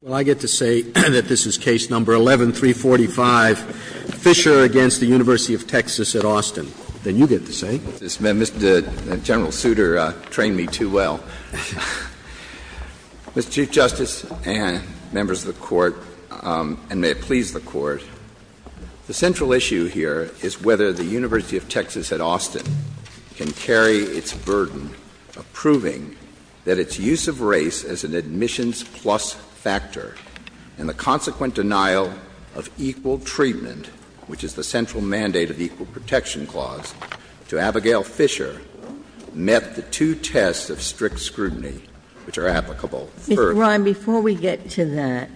Well, I get to say that this is case number 11-345, Fisher against the University of Texas at Austin. Then you get to say it. Mr. Chairman, the general suitor trained me too well. Mr. Chief Justice and members of the Court, and may it please the Court, the central issue here is whether the University of Texas at Austin can carry its burden of proving that its use of race as an admissions plus factor and the consequent denial of equal treatment, which is the central mandate of the Equal Protection Clause, to Abigail Fisher met the two tests of strict scrutiny which are applicable. Mr. Ryan, before we get to that,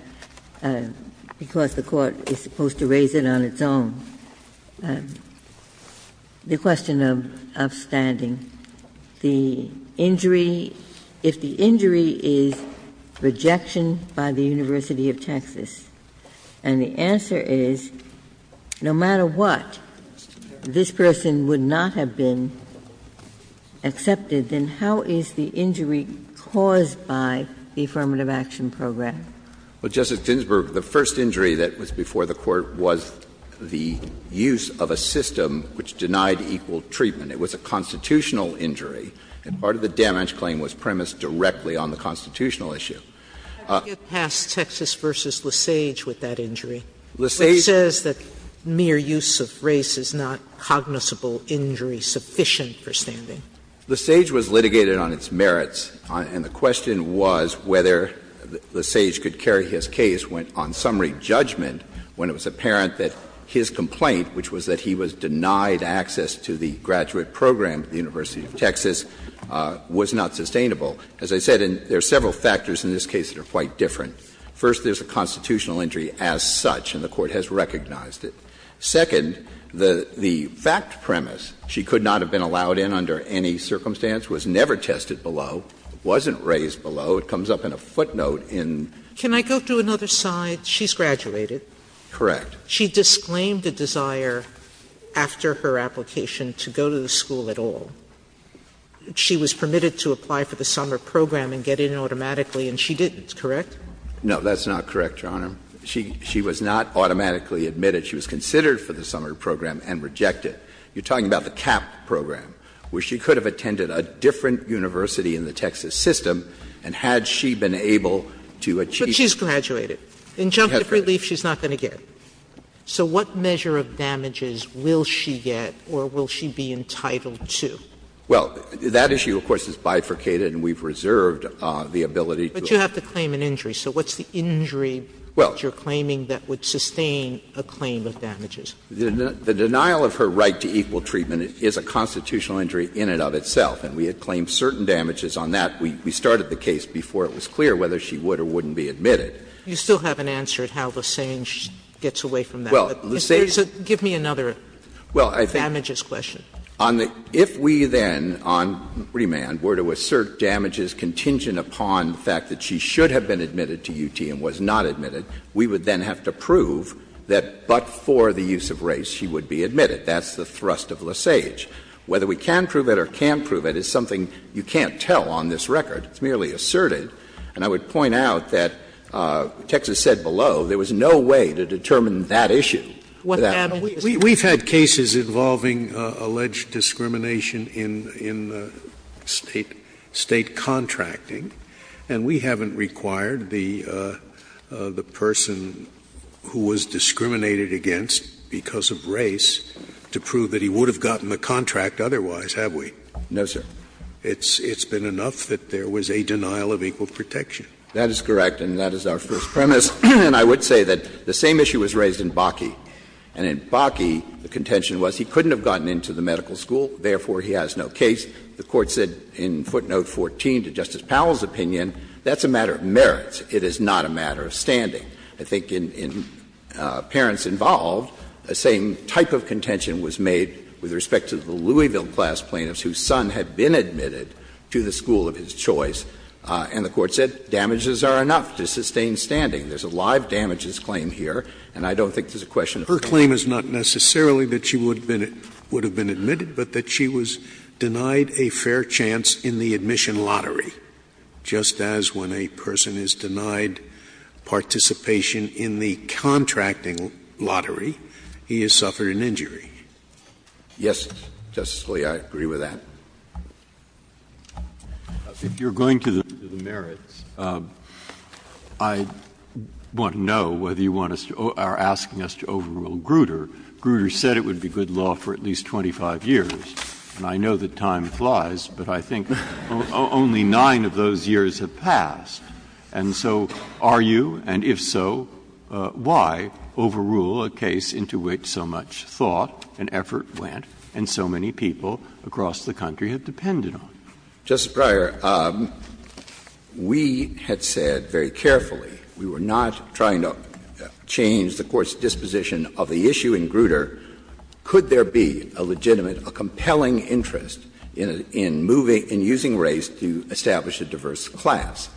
because the Court is supposed to raise it on its own, the question of standing, the injury, if the injury is rejection by the University of Texas, and the answer is no matter what, this person would not have been accepted, then how is the injury caused by the Affirmative Action Program? Well, Justice Ginsburg, the first injury that was before the Court was the use of a system which denied equal treatment. It was a constitutional injury, and part of the damage claim was premised directly on the constitutional issue. How do you get past Texas v. Lesage with that injury, which says that mere use of race is not cognizable injury sufficient for standing? Lesage was litigated on its merits, and the question was whether Lesage could carry his case on summary judgment when it was apparent that his complaint, which was that he was denied access to the graduate program at the University of Texas, was not sustainable. As I said, there are several factors in this case that are quite different. First there's a constitutional injury as such, and the Court has recognized it. Second, the fact premise, she could not have been allowed in under any circumstance, was never tested below, wasn't raised below, it comes up in a footnote in... Can I go to another side? She's graduated. Correct. She disclaimed a desire after her application to go to the school at all. She was permitted to apply for the summer program and get in automatically, and she didn't, correct? No, that's not correct, Your Honor. She was not automatically admitted. She was considered for the summer program and rejected. You're talking about the CAP program, where she could have attended a different university in the Texas system, and had she been able to achieve... But she's graduated. Injunctive relief, she's not going to get. So what measure of damages will she get, or will she be entitled to? Well, that issue, of course, is bifurcated, and we've reserved the ability to... But you have to claim an injury. So what's the injury? Well... That you're claiming that would sustain a claim of damages? The denial of her right to equal treatment is a constitutional injury in and of itself, and we had claimed certain damages on that. We started the case before it was clear whether she would or wouldn't be admitted. You still haven't answered how Lusange gets away from that. Well, Lusange... So give me another damages question. If we then, on remand, were to assert damages contingent upon the fact that she should have been admitted to UT and was not admitted, we would then have to prove that, but for the use of race, she would be admitted. That's the thrust of Lusange. Whether we can prove it or can't prove it is something you can't tell on this record. It's merely asserted, and I would point out that Texas said below there was no way to determine that issue. We've had cases involving alleged discrimination in the state contracting, and we haven't required the person who was discriminated against because of race to prove that he would have gotten a contract otherwise, have we? No, sir. It's been enough that there was a denial of equal protection. That is correct, and that is our first premise. And I would say that the same issue was raised in Bakke. And in Bakke, the contention was he couldn't have gotten into the medical school, therefore he has no case. The Court said in footnote 14, to Justice Powell's opinion, that's a matter of merit. It is not a matter of standing. I think in parents involved, the same type of contention was made with respect to the Louisville class plaintiffs whose son had been admitted to the school of his choice, and the Court said damages are enough to sustain standing. There's a live damages claim here, and I don't think there's a question of that. The claim is not necessarily that she would have been admitted, but that she was denied a fair chance in the admission lottery, just as when a person is denied participation in the contracting lottery, he has suffered an injury. Yes, Justice Scalia, I agree with that. Justice, if you're going to the merits, I want to know whether you want us to — are you going to the merits, and if so, why overrule a case into which so much thought and effort went and so many people across the country have depended on? Justice Breyer, we had said very carefully we were not trying to change the Court's disposition of the issue. The issue in Grutter, could there be a legitimate, a compelling interest in moving — in using race to establish a diverse class?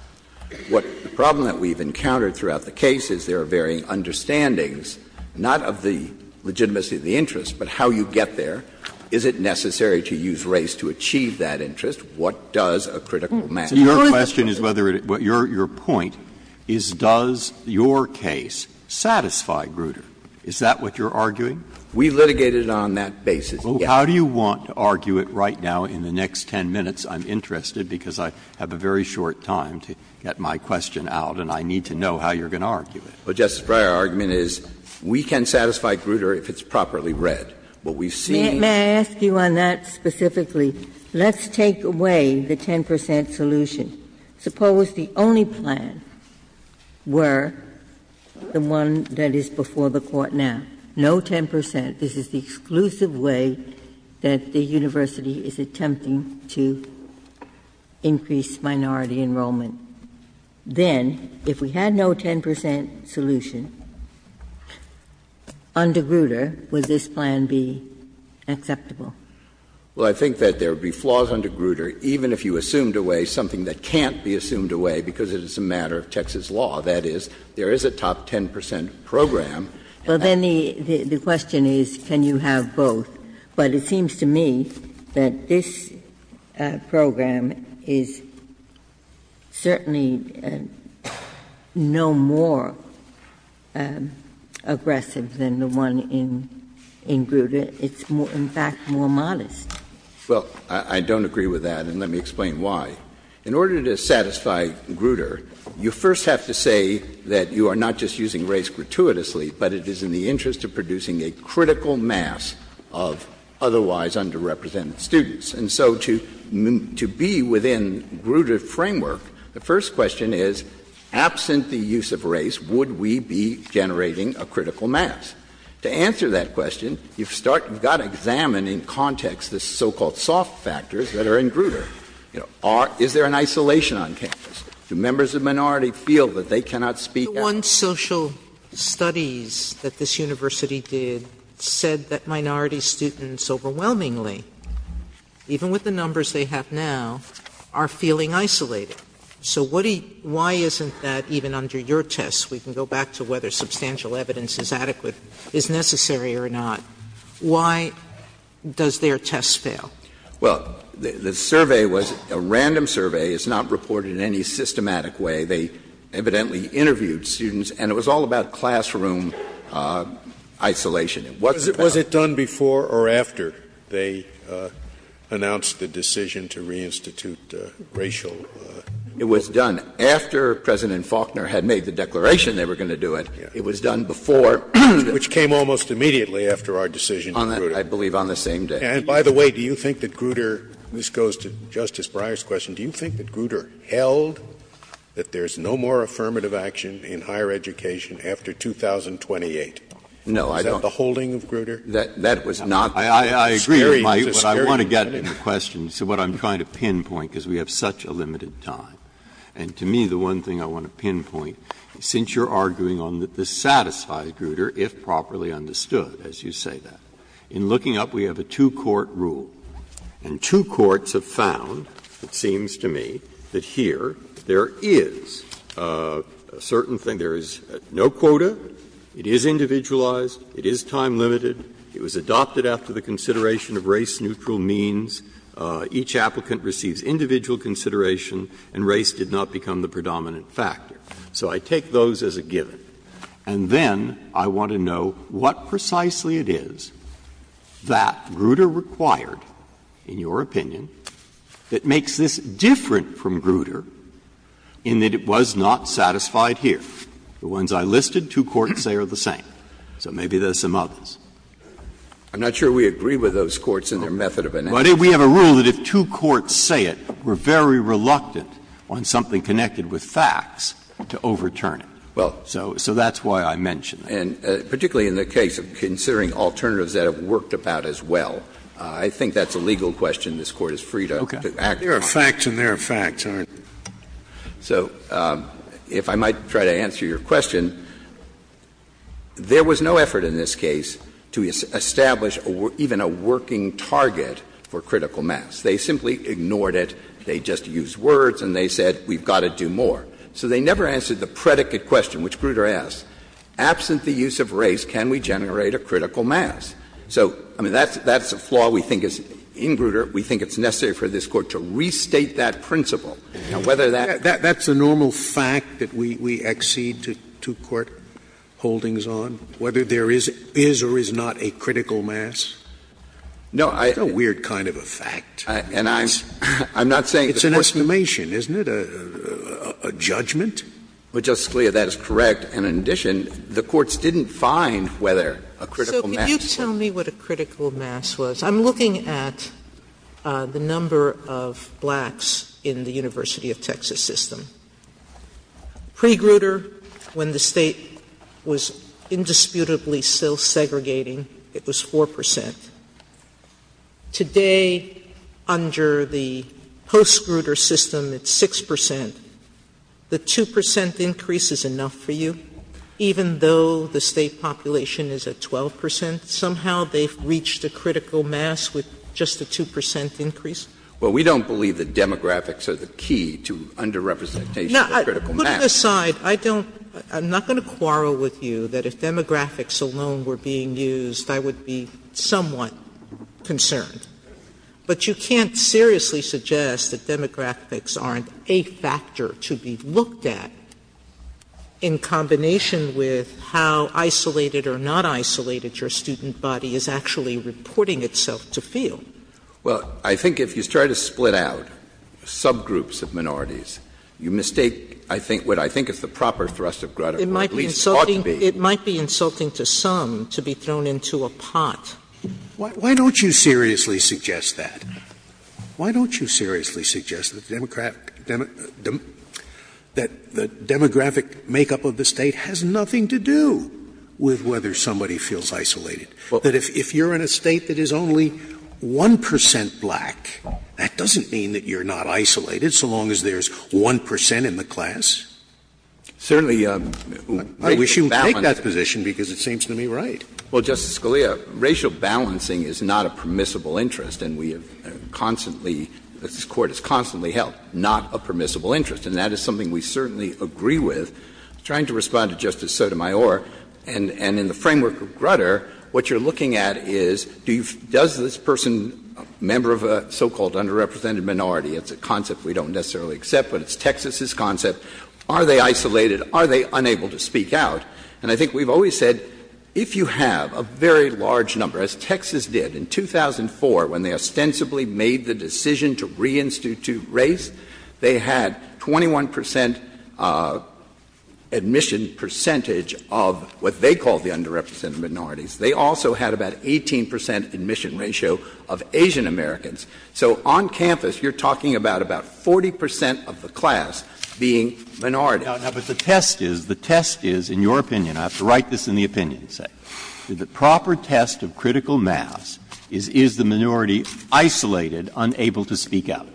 What the problem that we've encountered throughout the case is there are varying understandings, not of the legitimacy of the interest, but how you get there. Is it necessary to use race to achieve that interest? What does a critical matter? Your question is whether — your point is, does your case satisfy Grutter? Is that what you're arguing? We litigated on that basis, yes. How do you want to argue it right now in the next 10 minutes? I'm interested because I have a very short time to get my question out, and I need to know how you're going to argue it. But Justice Breyer, our argument is we can satisfy Grutter if it's properly read. But we've seen — May I ask you on that specifically? Let's take away the 10 percent solution. Suppose the only plan were the one that is before the court now. No 10 percent. This is the exclusive way that the university is attempting to increase minority enrollment. Then, if we had no 10 percent solution under Grutter, would this plan be acceptable? Well, I think that there would be flaws under Grutter, even if you assumed a way, something that can't be assumed a way because it is a matter of Texas law. That is, there is a top 10 percent program — Well, then the question is, can you have both? But it seems to me that this program is certainly no more aggressive than the one in Grutter. It's, in fact, more modest. Well, I don't agree with that, and let me explain why. In order to satisfy Grutter, you first have to say that you are not just using race gratuitously, but it is in the interest of producing a critical mass of otherwise underrepresented students. And so to be within Grutter framework, the first question is, absent the use of race, would we be generating a critical mass? To answer that question, you've got to examine in context the so-called soft factors that are in Grutter. Is there an isolation on campus? Do members of minority feel that they cannot speak out? One social studies that this university did said that minority students overwhelmingly, even with the numbers they have now, are feeling isolated. So why isn't that even under your tests? We can go back to whether substantial evidence is adequate, is necessary or not. Why does their test fail? Well, the survey was a random survey. It's not reported in any systematic way. They evidently interviewed students, and it was all about classroom isolation. Was it done before or after they announced the decision to reinstitute racial? It was done after President Faulkner had made the declaration they were going to do it. It was done before. Which came almost immediately after our decision. I believe on the same day. And by the way, do you think that Grutter, this goes to Justice Breyer's question, do you think that Grutter held that there's no more affirmative action in higher education after 2028? No, I don't. Is that the holding of Grutter? That was not. I agree, but I want to get to the question. So what I'm trying to pinpoint is we have such a limited time. And to me, the one thing I want to pinpoint, since you're arguing on the satisfied Grutter, if properly understood, as you say that. In looking up, we have a two-court rule. And two courts have found, it seems to me, that here there is a certain thing. There is no quota. It is individualized. It is time-limited. It was adopted after the consideration of race-neutral means. Each applicant receives individual consideration. And race did not become the predominant factor. So I take those as a given. And then I want to know what precisely it is that Grutter required, in your opinion, that makes this different from Grutter in that it was not satisfied here. The ones I listed, two courts say are the same. So maybe there's some others. I'm not sure we agree with those courts in their method of enactment. We have a rule that if two courts say it, we're very reluctant on something connected with facts to overturn it. Well, so that's why I mentioned. And particularly in the case of considering alternatives that have worked about as well. I think that's a legal question this Court is free to ask. There are facts and there are facts. So if I might try to answer your question, there was no effort in this case to establish even a working target for critical mass. They simply ignored it. They just used words. And they said, we've got to do more. So they never answered the predicate question, which Grutter asked. Absent the use of race, can we generate a critical mass? So, I mean, that's a flaw we think is, in Grutter, we think it's necessary for this Court to restate that principle. Now, whether that... That's a normal fact that we accede to two-court holdings on? Whether there is or is not a critical mass? No, I... That's a weird kind of a fact. And I'm not saying... It's an estimation, isn't it? A judgment? Well, Justice Scalia, that is correct. And in addition, the Courts didn't find whether a critical mass... So can you tell me what a critical mass was? I'm looking at the number of blacks in the University of Texas system. Pre-Grutter, when the state was indisputably still segregating, it was 4%. Today, under the post-Grutter system, it's 6%. The 2% increase is enough for you? Even though the state population is at 12%, somehow they've reached a critical mass with just a 2% increase? Well, we don't believe that demographics are the key to under-representation of a critical mass. Now, put it aside. I don't... I'm not going to quarrel with you that if demographics alone were being used, I would be somewhat concerned. But you can't seriously suggest that demographics aren't a factor to be looked at in combination with how isolated or not isolated your student body is actually reporting itself to feel. Well, I think if you try to split out subgroups of minorities, you mistake what I think is the proper thrust of Grutter. It might be insulting to some to be thrown into a pot. Why don't you seriously suggest that? Why don't you seriously suggest that demographic makeup of the state has nothing to do with whether somebody feels isolated? That if you're in a state that is only 1% black, that doesn't mean that you're not isolated, so long as there's 1% in the class. Certainly, I wish you would take that position because it seems to me right. Well, Justice Scalia, racial balancing is not a permissible interest, and we have constantly, this Court has constantly held, not a permissible interest. And that is something we certainly agree with. I'm trying to respond to Justice Sotomayor, and in the framework of Grutter, what you're looking at is, does this person, a member of a so-called under-represented minority, are they isolated? Are they unable to speak out? And I think we've always said, if you have a very large number, as Texas did in 2004, when they ostensibly made the decision to reinstitute race, they had 21% admission percentage of what they called the under-represented minorities. They also had about 18% admission ratio of Asian Americans. So, on campus, you're talking about about 40% of the class being minority. Now, but the test is, the test is, in your opinion, I have to write this in the opinion, the proper test of critical mass is, is the minority isolated, unable to speak out?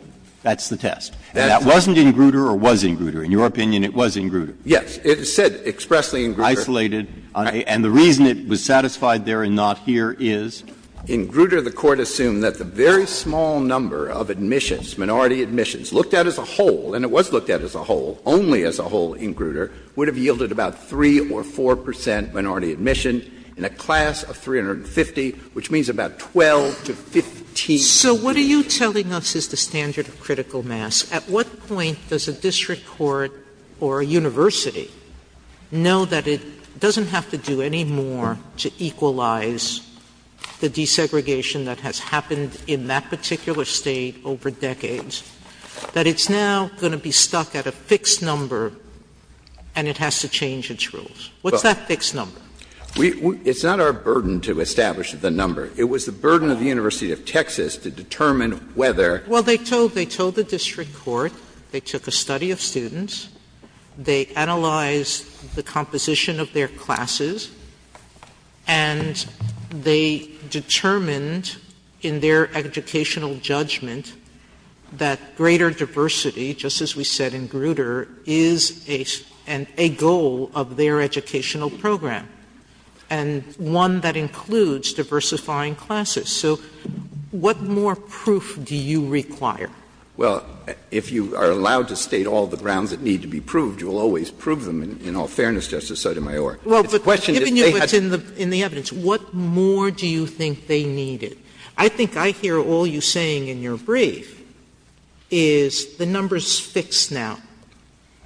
That's the test. And that wasn't in Grutter or was in Grutter? In your opinion, it was in Grutter? Yes, it said expressly in Grutter. Isolated, and the reason it was satisfied there and not here is? In Grutter, the court assumed that the very small number of admissions, minority admissions, looked at as a whole, and it was looked at as a whole, only as a whole in Grutter, would have yielded about 3 or 4% minority admission in a class of 350, which means about 12 to 15. So what are you telling us is the standard of critical mass? At what point does a district court or a university know that it doesn't have to do any more to equalize the desegregation that has happened in that particular state over decades, that it's now going to be stuck at a fixed number and it has to change its rules? What's that fixed number? It's not our burden to establish the number. It was the burden of the University of Texas to determine whether... Well, they told, they told the district court, they took a study of students, they analyzed the composition of their classes, and they determined in their educational judgment that greater diversity, just as we said in Grutter, is a goal of their educational program, and one that includes diversifying classes. So what more proof do you require? Well, if you are allowed to state all the grounds that need to be proved, you'll always prove them in all fairness, Justice Sotomayor. Well, the question is, in the evidence, what more do you think they needed? I think I hear all you're saying in your brief is the number's fixed now.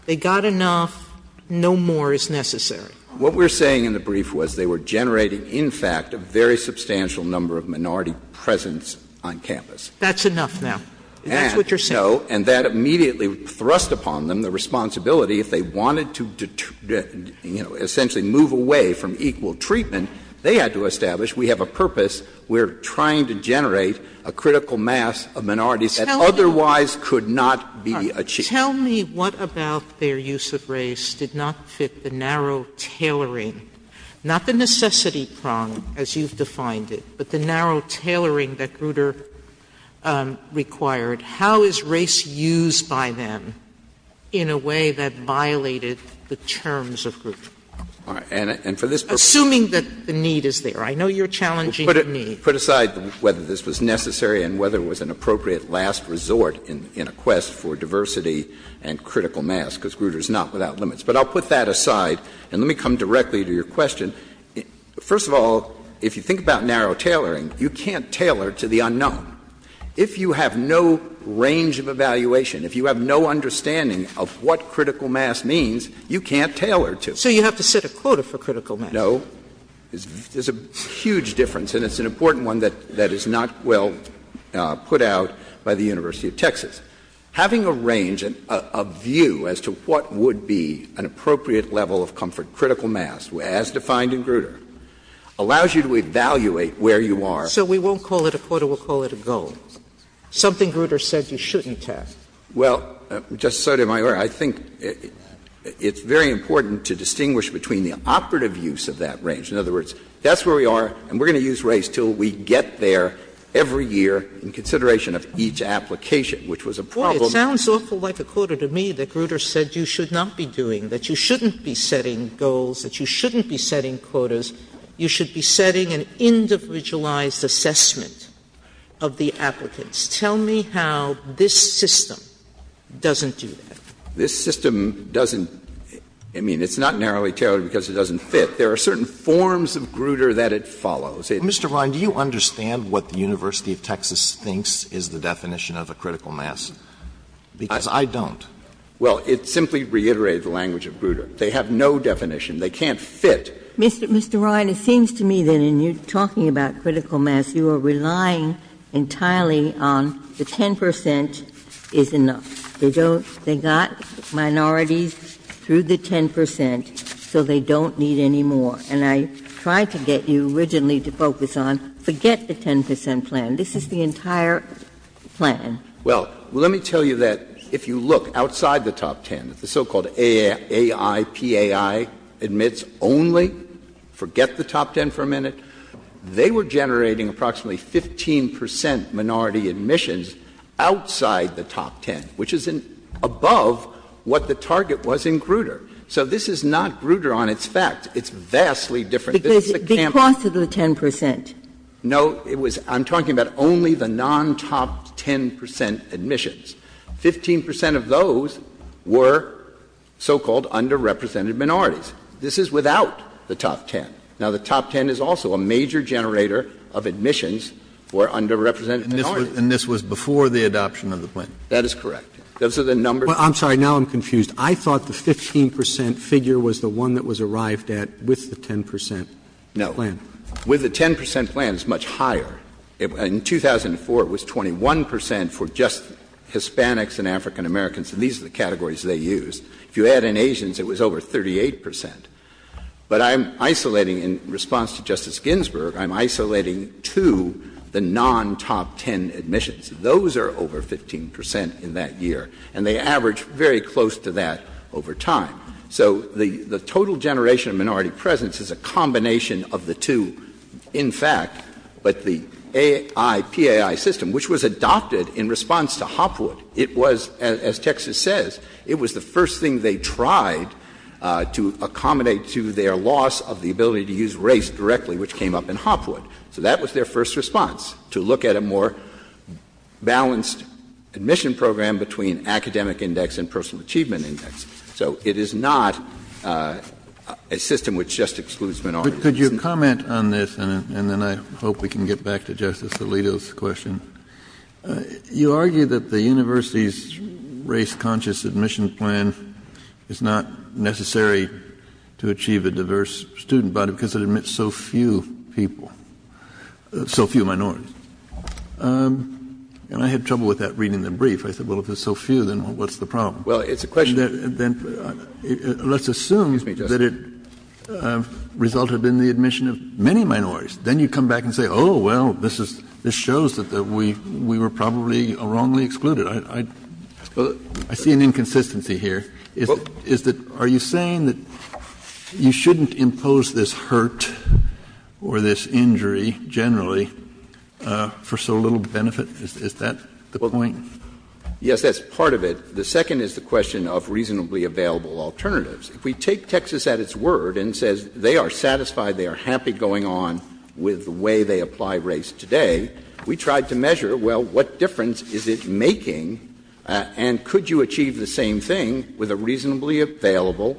They got enough, no more is necessary. What we're saying in the brief was they were generating, in fact, a very substantial number of minority presence on campus. That's enough now. And that immediately thrust upon them the responsibility, if they wanted to essentially move away from equal treatment, they had to establish, we have a purpose, we're trying to generate a critical mass of minorities that otherwise could not be achieved. Tell me what about their use of race did not fit the narrow tailoring, not the necessity prong, as you've defined it, but the narrow tailoring that Grutter required. How is race used by them in a way that violated the terms of Grutter? Assuming that the need is there. I know you're challenging the need. Put aside whether this was necessary and whether it was an appropriate last resort in a quest for diversity and critical mass, because Grutter is not without limits. But I'll put that aside, and let me come directly to your question. First of all, if you think about narrow tailoring, you can't tailor to the unknown. If you have no range of evaluation, if you have no understanding of what critical mass means, you can't tailor to it. So you have to set a quota for critical mass. No. There's a huge difference, and it's an important one that is not well put out by the University of Texas. Having a range of view as to what would be an appropriate level of comfort, critical mass, as defined in Grutter, allows you to evaluate where you are. So we won't call it a quota. We'll call it a goal. Something Grutter said you shouldn't have. Well, just so you're aware, I think it's very important to distinguish between the operative use of that range. In other words, that's where we are, and we're going to use race till we get there every year in consideration of each application, which was a problem. Boy, it sounds awful like a quota to me that Grutter said you should not be doing, that you shouldn't be setting goals, that you shouldn't be setting quotas. You should be setting an individualized assessment of the applicants. Tell me how this system doesn't do that. This system doesn't, I mean, it's not narrowly tailored because it doesn't fit. There are certain forms of Grutter that it follows. Mr. Ryan, do you understand what the University of Texas thinks is the definition of a critical mass? Because I don't. Well, it simply reiterates the language of Grutter. They have no definition. They can't fit. Mr. Ryan, it seems to me that when you're talking about critical mass, you are relying entirely on the 10 percent is enough. They got minorities through the 10 percent, so they don't need any more. And I tried to get you originally to focus on forget the 10 percent plan. This is the entire plan. Well, let me tell you that if you look outside the top 10, the so-called AIPAI admits only, forget the top 10 for a minute, they were generating approximately 15 percent minority admissions outside the top 10, which is above what the target was in Grutter. So this is not Grutter on its fact. It's vastly different. Because of the 10 percent? No, I'm talking about only the non-top 10 percent admissions. 15 percent of those were so-called underrepresented minorities. This is without the top 10. Now, the top 10 is also a major generator of admissions for underrepresented minorities. And this was before the adoption of the plan? That is correct. I'm sorry, now I'm confused. I thought the 15 percent figure was the one that was arrived at with the 10 percent plan. With the 10 percent plan, it's much higher. In 2004, it was 21 percent for just Hispanics and African Americans. And these are the categories they used. If you add in Asians, it was over 38 percent. But I'm isolating, in response to Justice Ginsburg, I'm isolating to the non-top 10 admissions. Those are over 15 percent in that year. And they average very close to that over time. So the total generation of minority presence is a combination of the two, in fact. But the AIPAI system, which was adopted in response to Hopwood, it was, as Texas says, it was the first thing they tried to accommodate to their loss of the ability to use race directly, which came up in Hopwood. So that was their first response, to look at a more balanced admission program between academic index and personal achievement index. So it is not a system which just excludes minorities. Could you comment on this? And then I hope we can get back to Justice Alito's question. You argue that the university's race-conscious admissions plan is not necessary to achieve a diverse student body because it admits so few people, so few minorities. And I had trouble with that reading the brief. I said, well, if it's so few, then what's the problem? Let's assume that it resulted in the admission of many minorities. Then you come back and say, oh, well, this shows that we were probably wrongly excluded. I see an inconsistency here. Are you saying that you shouldn't impose this hurt or this injury generally for so little benefit? Is that the point? Yes, that's part of it. The second is the question of reasonably available alternatives. If we take Texas at its word and say they are satisfied, they are happy going on with the way they apply race today, we tried to measure, well, what difference is it making and could you achieve the same thing with a reasonably available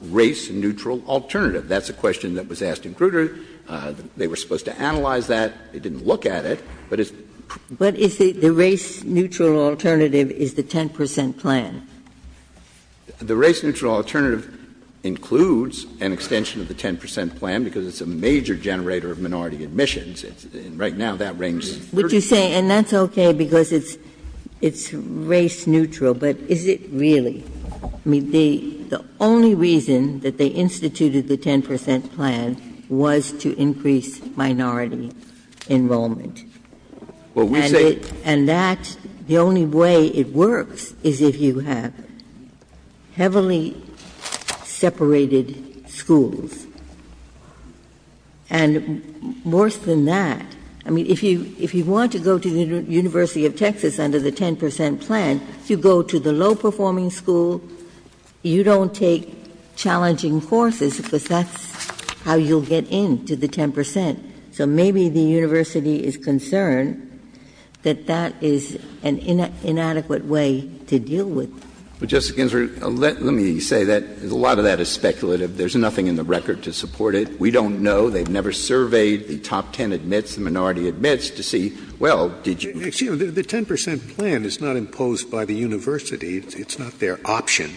race-neutral alternative? That's a question that was asked in Grutter. They were supposed to analyze that. They didn't look at it. But if the race-neutral alternative is the 10% plan? The race-neutral alternative includes an extension of the 10% plan because it's a major generator of minority admissions. Right now, that rings true. Would you say, and that's okay because it's race-neutral, but is it really? The only reason that they instituted the 10% plan was to increase minority enrollment. And that's the only way it works, is if you have heavily separated schools. And worse than that, I mean, if you want to go to the University of Texas under the 10% plan, you go to the low-performing school. You don't take challenging courses because that's how you'll get into the 10%. So maybe the university is concerned that that is an inadequate way to deal with it. But Justice Ginsburg, let me say that a lot of that is speculative. There's nothing in the record to support it. We don't know. They've never surveyed the top 10 admits, the minority admits, to see, well, did you... You see, the 10% plan is not imposed by the university. It's not their option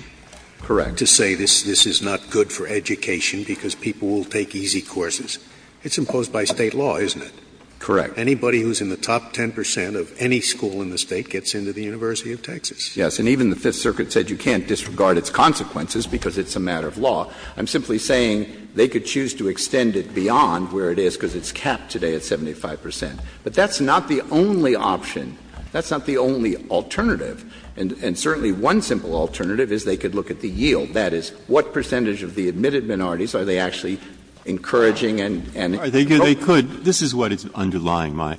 to say this is not good for education because people will take easy courses. It's imposed by state law, isn't it? Correct. Anybody who's in the top 10% of any school in the state gets into the University of Texas. Yes, and even the Fifth Circuit said you can't disregard its consequences because it's a matter of law. I'm simply saying they could choose to extend it beyond where it is because it's capped today at 75%. But that's not the only option. That's not the only alternative. And certainly one simple alternative is they could look at the yield. That is, what percentage of the admitted minorities are they actually encouraging and... They could. This is what is underlying my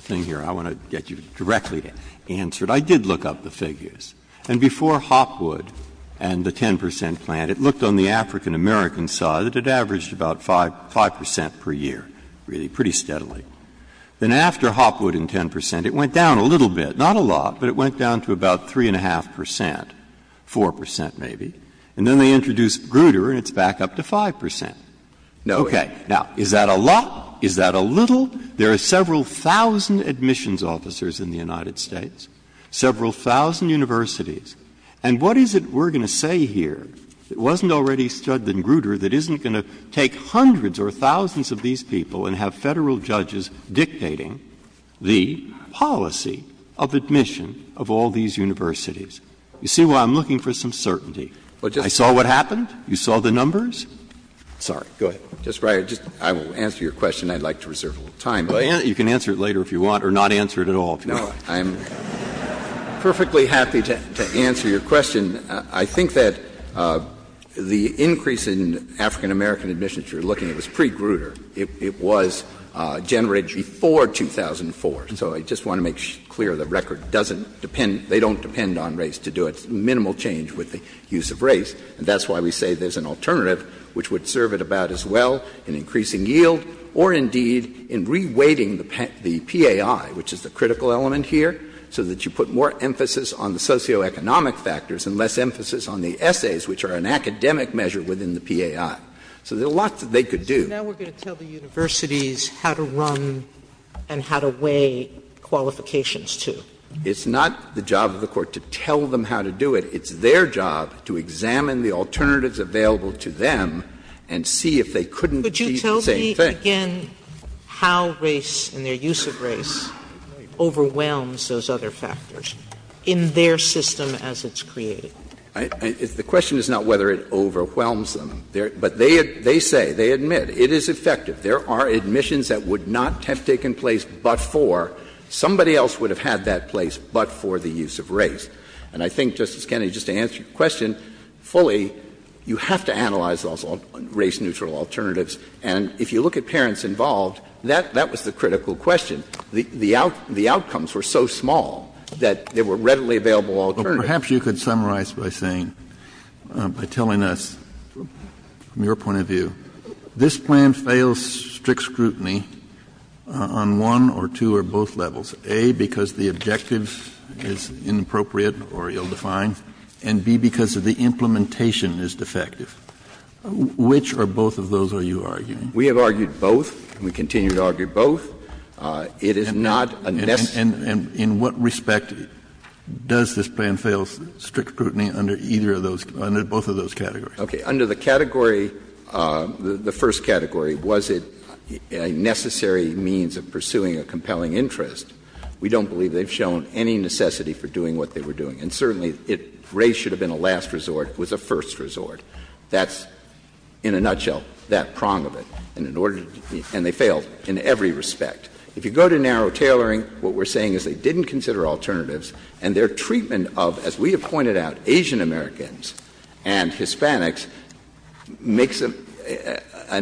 thing here. I want to get you directly answered. I did look up the figures. And before Hopwood and the 10% plan, it looked on the African-American side that it averaged about 5% per year, really, pretty steadily. Then after Hopwood and 10%, it went down a little bit, not a lot, but it went down to about 3.5%, 4% maybe. And then they introduced Grutter and it's back up to 5%. OK, now, is that a lot? Is that a little? There are several thousand admissions officers in the United States, several thousand universities. And what is it we're going to say here that wasn't already said in Grutter that isn't going to take hundreds or thousands of these people and have federal judges dictating the policy of admission of all these universities? You see why I'm looking for some certainty. I saw what happened. You saw the numbers. Sorry, go ahead. Justice Breyer, I will answer your question. I'd like to reserve a little time. You can answer it later if you want or not answer it at all. No, I'm perfectly happy to answer your question. I think that the increase in African-American admissions you're looking at was pre-Grutter. It was generated before 2004. So I just want to make clear the record doesn't depend... to do a minimal change with the use of race. And that's why we say there's an alternative which would serve it about as well in increasing yield or indeed in reweighting the PAI, which is the critical element here, so that you put more emphasis on the socioeconomic factors and less emphasis on the essays, which are an academic measure within the PAI. So there's a lot that they could do. So now we're going to tell the universities how to run and how to weigh qualifications, too. It's not the job of the court to tell them how to do it. It's their job to examine the alternatives available to them and see if they couldn't do the same thing. Could you tell me again how race and their use of race overwhelms those other factors in their system as it's created? The question is not whether it overwhelms them. But they say, they admit, it is effective. There are admissions that would not have taken place but for somebody else would have had that place but for the use of race. And I think, Justice Kennedy, just to answer your question fully, you have to analyze those race-neutral alternatives. And if you look at parents involved, that was the critical question. The outcomes were so small that there were readily available alternatives. Perhaps you could summarize by saying, by telling us from your point of view, this plan fails strict scrutiny on one or two or both levels. A, because the objectives is inappropriate or ill-defined, and B, because the implementation is defective. Which or both of those are you arguing? We have argued both. We continue to argue both. It is not a nexus. And in what respect does this plan fail strict scrutiny under either of those, under both of those categories? Okay, under the category, the first category, was it a necessary means of pursuing a compelling interest? We don't believe they've shown any necessity for doing what they were doing. And certainly race should have been a last resort. It was a first resort. That's, in a nutshell, that prong of it. And they failed in every respect. If you go to narrow tailoring, what we're saying is they didn't consider alternatives and their treatment of, as we have pointed out, Asian Americans and Hispanics, makes an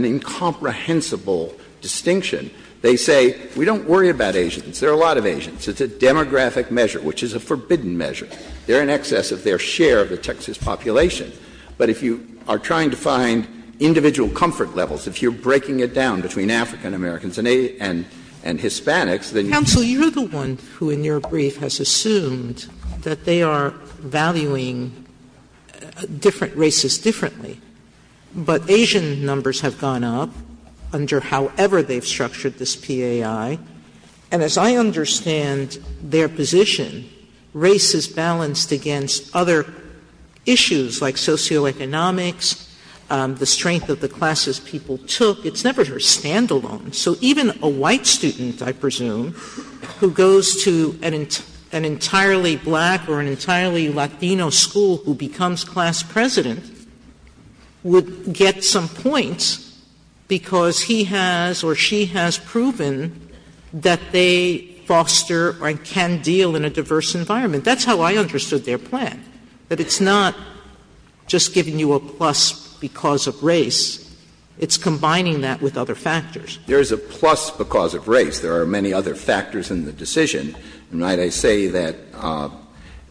incomprehensible distinction. They say, we don't worry about Asians. There are a lot of Asians. It's a demographic measure, which is a forbidden measure. They're in excess of their share of the Texas population. But if you are trying to find individual comfort levels, if you're breaking it down between African Americans and Hispanics, then you... Counsel, you're the one who, in your brief, has assumed that they are valuing different races differently. But Asian numbers have gone up under however they've structured this PAI. And as I understand their position, race is balanced against other issues, like socioeconomics, the strength of the classes people took. It's never just standalone. So even a white student, I presume, who goes to an entirely black or an entirely Latino school who becomes class president, would get some points because he has or she has proven that they foster or can deal in a diverse environment. That's how I understood their plan. But it's not just giving you a plus because of race. It's combining that with other factors. There's a plus because of race. There are many other factors in the decision. Might I say that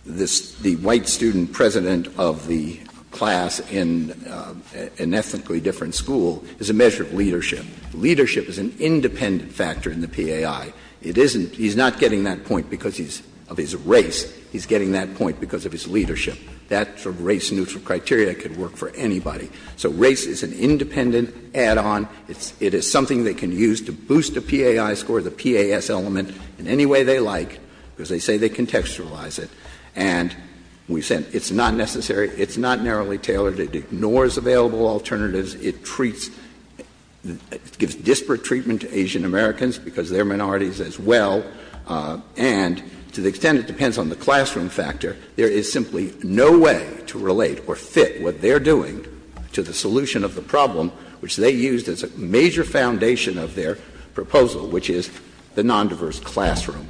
the white student president of the class in an ethnically different school is a measure of leadership. Leadership is an independent factor in the PAI. He's not getting that point because of his race. He's getting that point because of his leadership. That's a race-neutral criteria. It could work for anybody. So race is an independent add-on. It is something they can use to boost the PAI score, the PAS element, in any way they like. Because they say they contextualize it. And we said it's not necessary. It's not narrowly tailored. It ignores available alternatives. It gives disparate treatment to Asian-Americans because they're minorities as well. And to the extent it depends on the classroom factor, there is simply no way to relate or fit what they're doing to the solution of the problem, which they used as a major foundation of their proposal, which is the non-diverse classroom.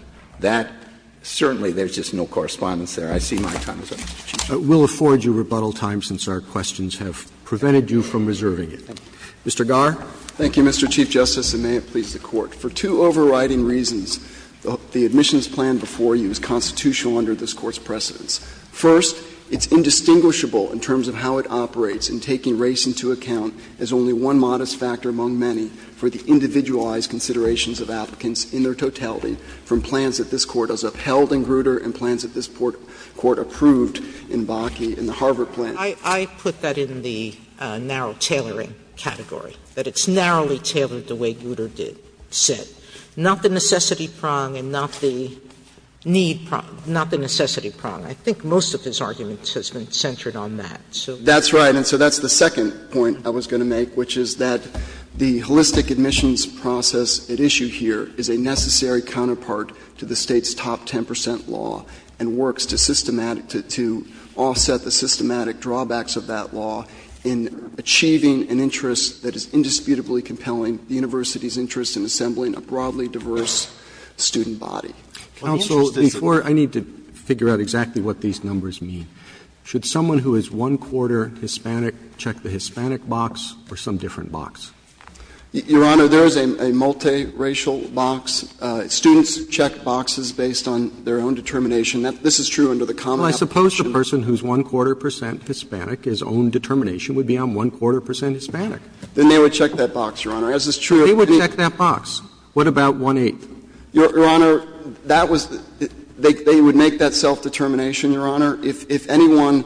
Certainly, there's just no correspondence there. I see my time is up. We'll afford you rebuttal time since our questions have prevented you from reserving it. Mr. Garr? Thank you, Mr. Chief Justice, and may it please the Court. For two overriding reasons, the admissions plan before you is constitutional under this Court's precedence. First, it's indistinguishable in terms of how it operates in taking race into account as only one modest factor among many for the individualized considerations of applicants in their totality from plans that this Court has upheld in Grutter and plans that this Court approved in Bakke in the Harvard plan. I put that in the narrow tailoring category, that it's narrowly tailored the way Grutter did. Not the necessity prong and not the need prong. Not the necessity prong. I think most of this argument has been centered on that. That's right. And so that's the second point I was going to make, which is that the holistic admissions process at issue here is a necessary counterpart to the state's top ten percent law and works to offset the systematic drawbacks of that law in achieving an interest that is indisputably compelling, the university's interest in assembling a broadly diverse student body. Counsel, before... I need to figure out exactly what these numbers mean. Should someone who is one-quarter Hispanic check the Hispanic box or some different box? Your Honor, there is a multiracial box. Students check boxes based on their own determination. This is true under the Common Application. Well, I suppose the person who's one-quarter percent Hispanic, his own determination would be on one-quarter percent Hispanic. Then they would check that box, Your Honor. They would check that box. What about one-eighth? Your Honor, that was... They would make that self-determination, Your Honor. Your Honor, if anyone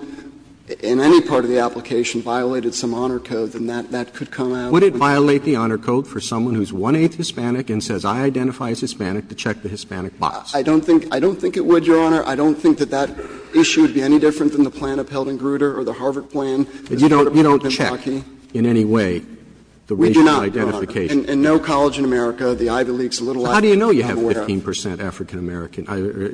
in any part of the application violated some honor code, then that could come out... Would it violate the honor code for someone who's one-eighth Hispanic and says, I identify as Hispanic, to check the Hispanic box? I don't think it would, Your Honor. I don't think that that issue would be any different than the Plano-Pelton-Grutter or the Harvard Plain. You don't check in any way the racial identification? We do not, Your Honor. In no college in America, the Ivy League's a little... How do you know you have 15% African-American,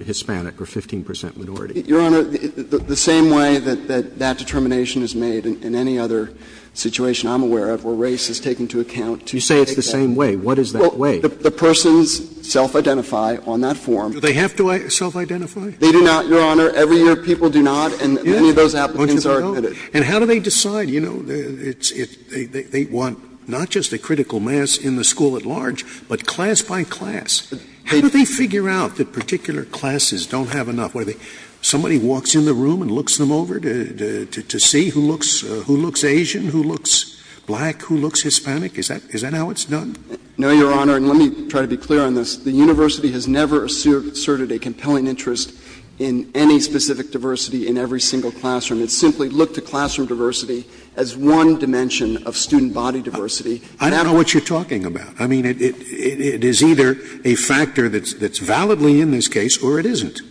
Hispanic or 15% minority? Your Honor, the same way that that determination is made in any other situation I'm aware of where race is taken to account... You say it's the same way. What is that way? The persons self-identify on that form... Do they have to self-identify? They do not, Your Honor. Every year, people do not, and many of those applications are admitted. And how do they decide? You know, they want not just a critical mass in the school at large, but class by class. How do they figure out that particular classes don't have enough? Somebody walks in the room and looks them over to see who looks Asian, who looks black, who looks Hispanic? Is that how it's done? No, Your Honor, and let me try to be clear on this. The university has never asserted a compelling interest in any specific diversity in every single classroom. It simply looked at classroom diversity as one dimension of student body diversity. I don't know what you're talking about. I mean, it is either a factor that's validly in this case or it isn't.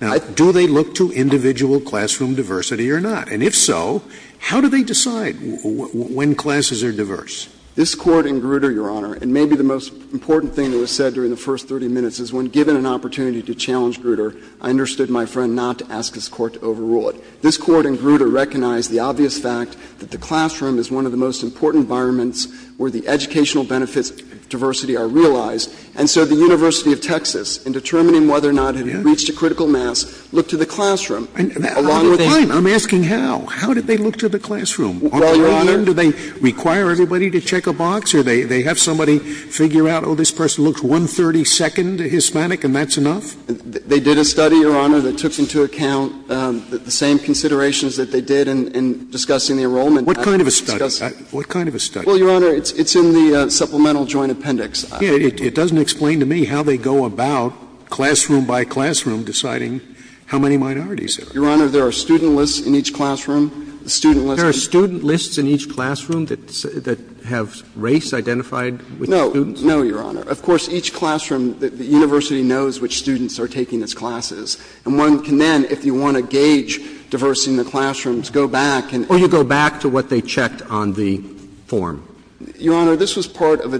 Now, do they look to individual classroom diversity or not? And if so, how do they decide when classes are diverse? This court in Grutter, Your Honor, and maybe the most important thing that was said during the first 30 minutes is when given an opportunity to challenge Grutter, I understood my friend not to ask his court to overrule it. This court in Grutter recognized the obvious fact that the classroom is one of the most important environments where the educational benefits of diversity are realized, and so the University of Texas, in determining whether or not it reached a critical mass, looked at the classroom. I'm asking how. How did they look to the classroom? Do they require everybody to check a box or do they have somebody figure out, oh, this person looks 132nd Hispanic and that's enough? They did a study, Your Honor, that took into account the same considerations that they did in discussing the enrollment. What kind of a study? Well, Your Honor, it's in the supplemental joint appendix. It doesn't explain to me how they go about, classroom by classroom, deciding how many minorities there are. Your Honor, there are student lists in each classroom. There are student lists in each classroom that have race identified with students? No. No, Your Honor. Of course, each classroom, the university knows which students are taking its classes, and one can then, if you want to gauge diversity in the classrooms, go back and... Or you go back to what they checked on the form. Your Honor, this was part of a...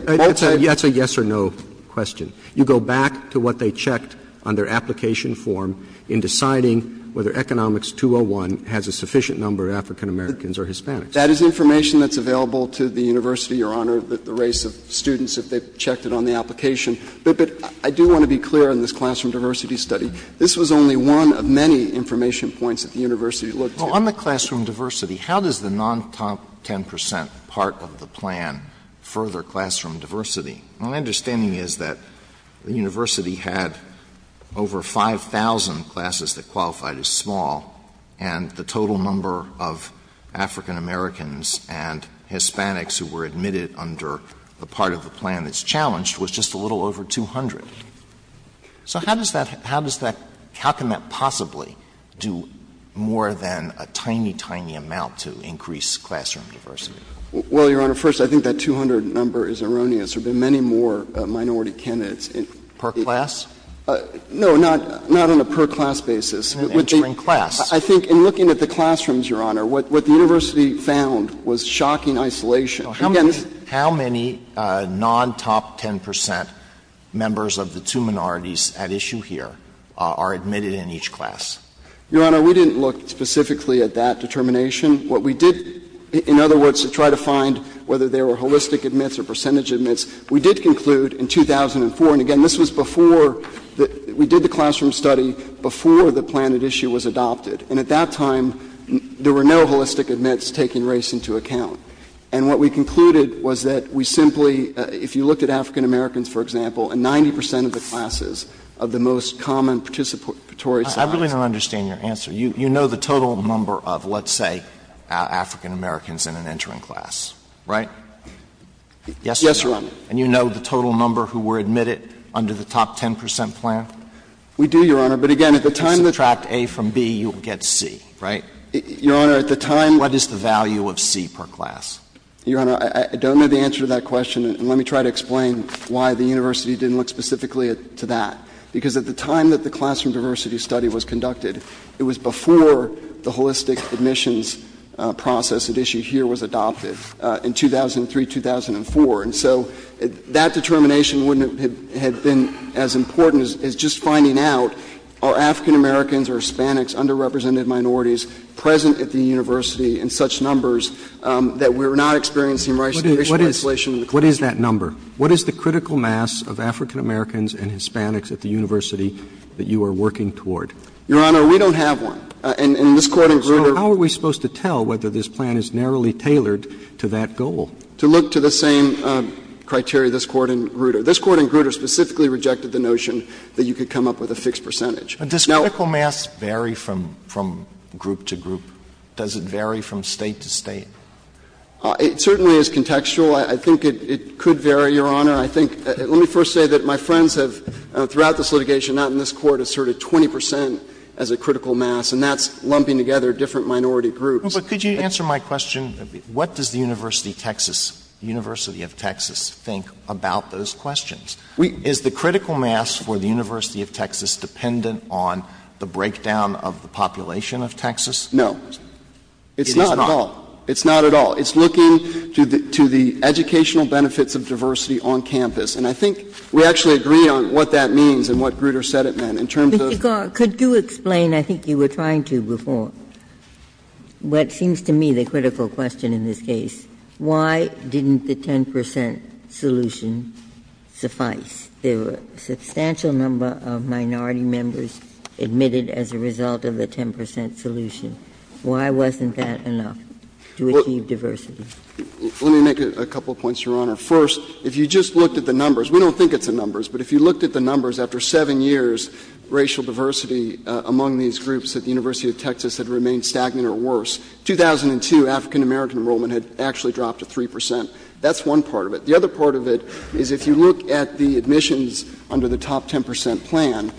That's a yes or no question. You go back to what they checked on their application form in deciding whether Economics 201 has a sufficient number of African Americans or Hispanics. That is information that's available to the university, Your Honor, the race of students that they've checked on the application. But I do want to be clear in this classroom diversity study, this was only one of many information points at the university. Well, on the classroom diversity, how does the non-top 10% part of the plan further classroom diversity? My understanding is that the university had over 5,000 classes that qualified as small, and the total number of African Americans and Hispanics who were admitted under the part of the plan that's challenged was just a little over 200. So how does that... How can that possibly do more than a tiny, tiny amount to increase classroom diversity? Well, Your Honor, first, I think that 200 number is erroneous. There have been many more minority candidates. Per class? No, not on a per-class basis. Entering class? I think in looking at the classrooms, Your Honor, what the university found was shocking isolation. How many non-top 10% members of the two minorities at issue here are admitted in each class? Your Honor, we didn't look specifically at that determination. What we did, in other words, to try to find whether there were holistic admits or percentage admits, we did conclude in 2004, and again, this was before... We did the classroom study before the plan at issue was adopted. And at that time, there were no holistic admits taking race into account. And what we concluded was that we simply... If you look at African Americans, for example, and 90% of the classes of the most common participatory... I really don't understand your answer. You know the total number of, let's say, African Americans in an entering class, right? Yes, Your Honor. And you know the total number who were admitted under the top 10% plan? We do, Your Honor, but again, at the time... Subtract A from B, you'll get C, right? Your Honor, at the time... What is the value of C per class? Your Honor, I don't know the answer to that question. Let me try to explain why the university didn't look specifically to that. Because at the time that the classroom diversity study was conducted, it was before the holistic admissions process at issue here was adopted, in 2003-2004. And so that determination wouldn't have been as important as just finding out are African Americans or Hispanics, underrepresented minorities, present at the university in such numbers that we're not experiencing... What is that number? What is the critical mass of African Americans and Hispanics at the university that you are working toward? Your Honor, we don't have one. So how are we supposed to tell whether this plan is narrowly tailored to that goal? To look to the same criteria, this court and Grutter. This court and Grutter specifically rejected the notion that you could come up with a fixed percentage. Does critical mass vary from group to group? Does it vary from state to state? It certainly is contextual. I think it could vary, Your Honor. Let me first say that my friends throughout this litigation and out in this court asserted 20% as a critical mass and that's lumping together different minority groups. Could you answer my question? What does the University of Texas think about those questions? Is the critical mass for the University of Texas dependent on the breakdown of the population of Texas? No. It's not at all. It's looking to the educational benefits of diversity on campus and I think we actually agree on what that means and what Grutter said it meant. Could you explain, I think you were trying to before, what seems to me the critical question in this case. Why didn't the 10% solution suffice? There were a substantial number of minority members admitted as a result of the 10% solution. Why wasn't that enough to achieve diversity? Let me make a couple points, Your Honor. First, if you just looked at the numbers, we don't think it's the numbers, but if you looked at the numbers after seven years, racial diversity among these groups at the University of Texas have remained stagnant or worse. 2002, African-American enrollment had actually dropped to 3%. That's one part of it. The other part of it is if you look at the admissions under the top 10% plan,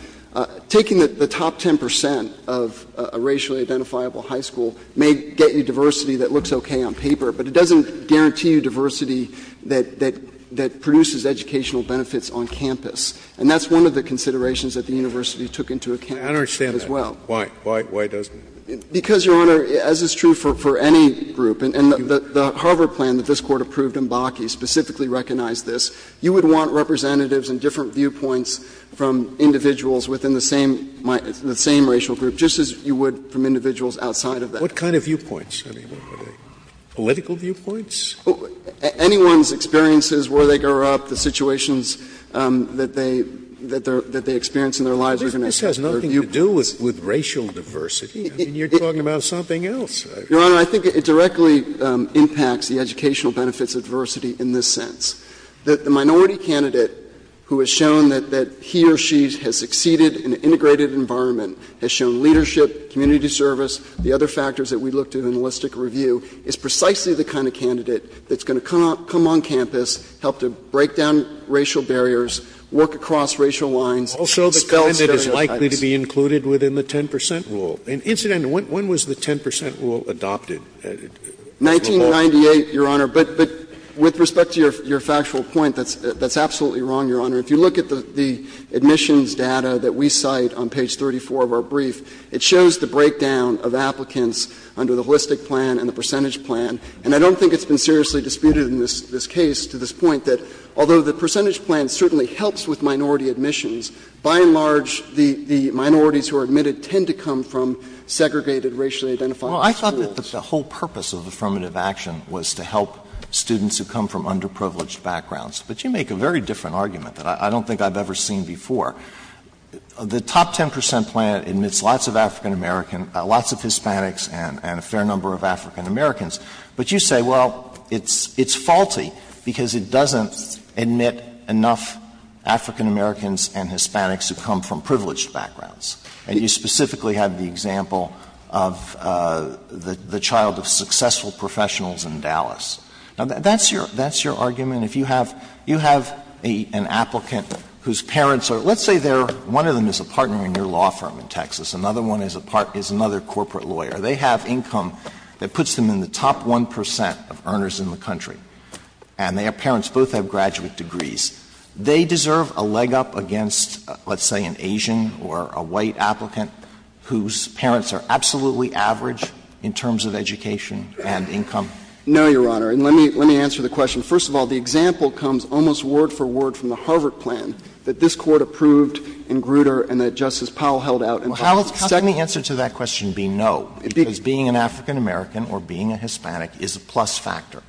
taking the top 10% of a racially identifiable high school may get you diversity that looks okay on paper, but it doesn't guarantee you diversity that produces educational benefits on campus. And that's one of the considerations that the university took into account as well. I don't understand that. Why? Why doesn't it? Because, Your Honor, as is true for any group, and the Harvard plan that this Court approved in Bakke specifically recognized this, you would want representatives and different viewpoints from individuals within the same racial group just as you would from individuals outside of that group. What kind of viewpoints? Political viewpoints? Anyone's experiences where they grew up, the situations that they experience in their lives. This has nothing to do with racial diversity. You're talking about something else. Your Honor, I think it directly impacts the educational benefits of diversity in this sense. The minority candidate who has shown that he or she has succeeded in an integrated environment, has shown leadership, community service, the other factors that we looked at in the holistic review is precisely the kind of candidate that's going to come on campus, help to break down racial barriers, work across racial lines. Also, the candidate is likely to be included within the 10% rule. Incidentally, when was the 10% rule adopted? 1998, Your Honor, but with respect to your factual point, that's absolutely wrong, Your Honor. If you look at the admissions data that we cite on page 34 of our brief, it shows the breakdown of applicants under the holistic plan and the percentage plan, and I don't think it's been seriously disputed in this case to this point that although the percentage plan certainly helps with minority admissions, by and large, the minorities who are admitted tend to come from segregated, racially identified schools. Well, I thought that the whole purpose of affirmative action was to help students who come from underprivileged backgrounds, but you make a very different argument that I don't think I've ever seen before. The top 10% plan admits lots of African-Americans, lots of Hispanics, and a fair number of African-Americans, but you say, well, it's faulty because it doesn't admit enough African-Americans and Hispanics who come from privileged backgrounds, and you specifically have the example of the child of successful professionals in Dallas. That's your argument. If you have an applicant whose parents are, let's say they're, one of them is a partner in your law firm in Texas, another one is another corporate lawyer. They have income that puts them in the top 1% of earners in the country, and their parents both have graduate degrees. They deserve a leg up against let's say an Asian or a white applicant whose parents are absolutely average in terms of education and income? No, Your Honor, and let me answer the question. First of all, the example comes almost word for word from the Harvard plan that this court approved in Grutter and that Justice Powell held out. How can the answer to that question be no? Because being an African-American or being a Hispanic is a plus factor.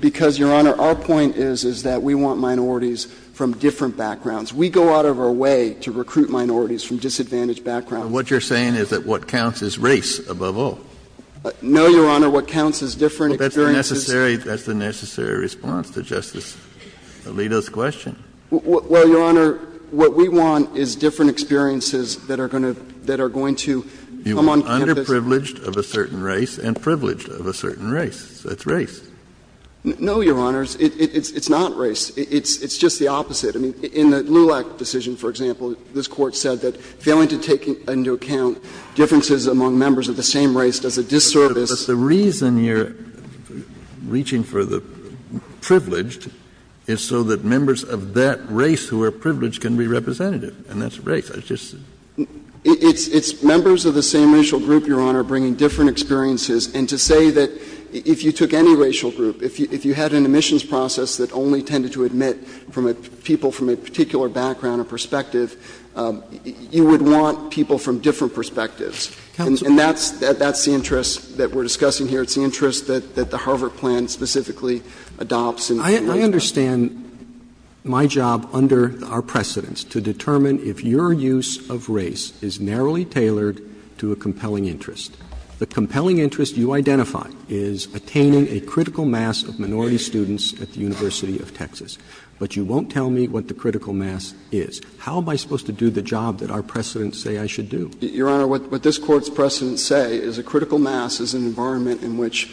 Because, Your Honor, our point is that we want minorities from different backgrounds. We go out of our way to recruit minorities from disadvantaged backgrounds. What you're saying is that what counts is race above all. No, Your Honor, what counts is different experiences. That's a necessary response to Justice Alito's question. Well, Your Honor, what we want is different experiences that are going to come on... You want underprivileged of a certain race and privileged of a certain race. That's race. No, Your Honor, it's not race. It's just the opposite. In the LULAC decision, for example, this court said that failing to take into account differences among members of the same race does a disservice... But the reason you're reaching for the privileged is so that members of that race who are privileged can be representative. And that's race. It's members of the same racial group, Your Honor, bringing different experiences. And to say that if you took any racial group, if you had an admissions process that only tended to admit people from a particular background or perspective, you would want people from different perspectives. And that's the interest that we're discussing here. It's the interest that the Harvard plan specifically adopts. I understand my job under our precedents to determine if your use of race is narrowly tailored to a compelling interest. The compelling interest you identify is attaining a critical mass of minority students at the University of Texas. But you won't tell me what the critical mass is. How am I supposed to do the job that our precedents say I should do? Your Honor, what this court's precedents say is a critical mass is an environment in which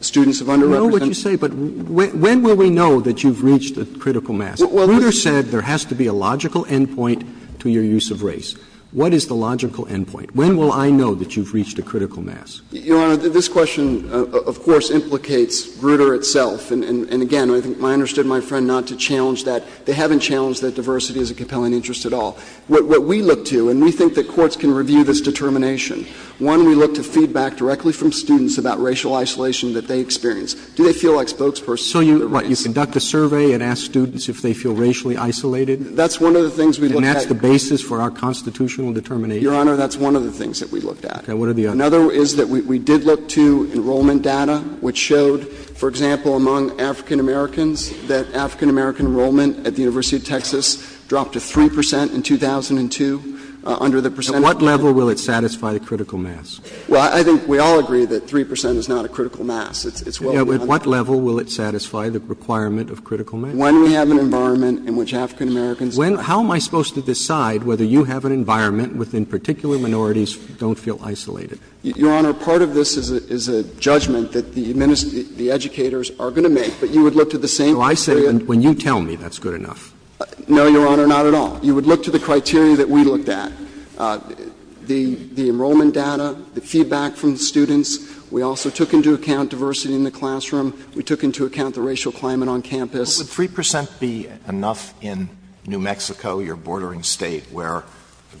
students of underrepresented No, what you say, but when will we know that you've reached a critical mass? Bruder said there has to be a logical endpoint to your use of race. What is the logical endpoint? When will I know that you've reached a critical mass? Your Honor, this question, of course, implicates Bruder itself. And again, I think I understood my friend not to challenge that. They haven't challenged that diversity is a compelling interest at all. What we look to, and we think that courts can review this determination. One, we look to feedback directly from students about racial isolation that they experience. Do they feel like spokespersons? So you conduct a survey and ask students if they feel racially isolated? And that's the basis for our constitutional determination? Your Honor, that's one of the things that we looked at. Another is that we did look to enrollment data which showed, for example, among African Americans, that African American enrollment at the University of Texas dropped to 3% in 2002 under the percentage... At what level will it satisfy a critical mass? Well, I think we all agree that 3% is not a critical mass. At what level will it satisfy the requirement of critical mass? When we have an environment in which African Americans... How am I supposed to decide whether you have an environment within particular minorities don't feel isolated? Your Honor, part of this is a judgment that the educators are going to make that you would look to the same... So I say, when you tell me that's good enough. No, Your Honor, not at all. You would look to the criteria that we looked at. The enrollment data, the feedback from students, we also took into account diversity in the classroom, we took into account the racial climate on campus. Would 3% be enough in New Mexico, your bordering state, where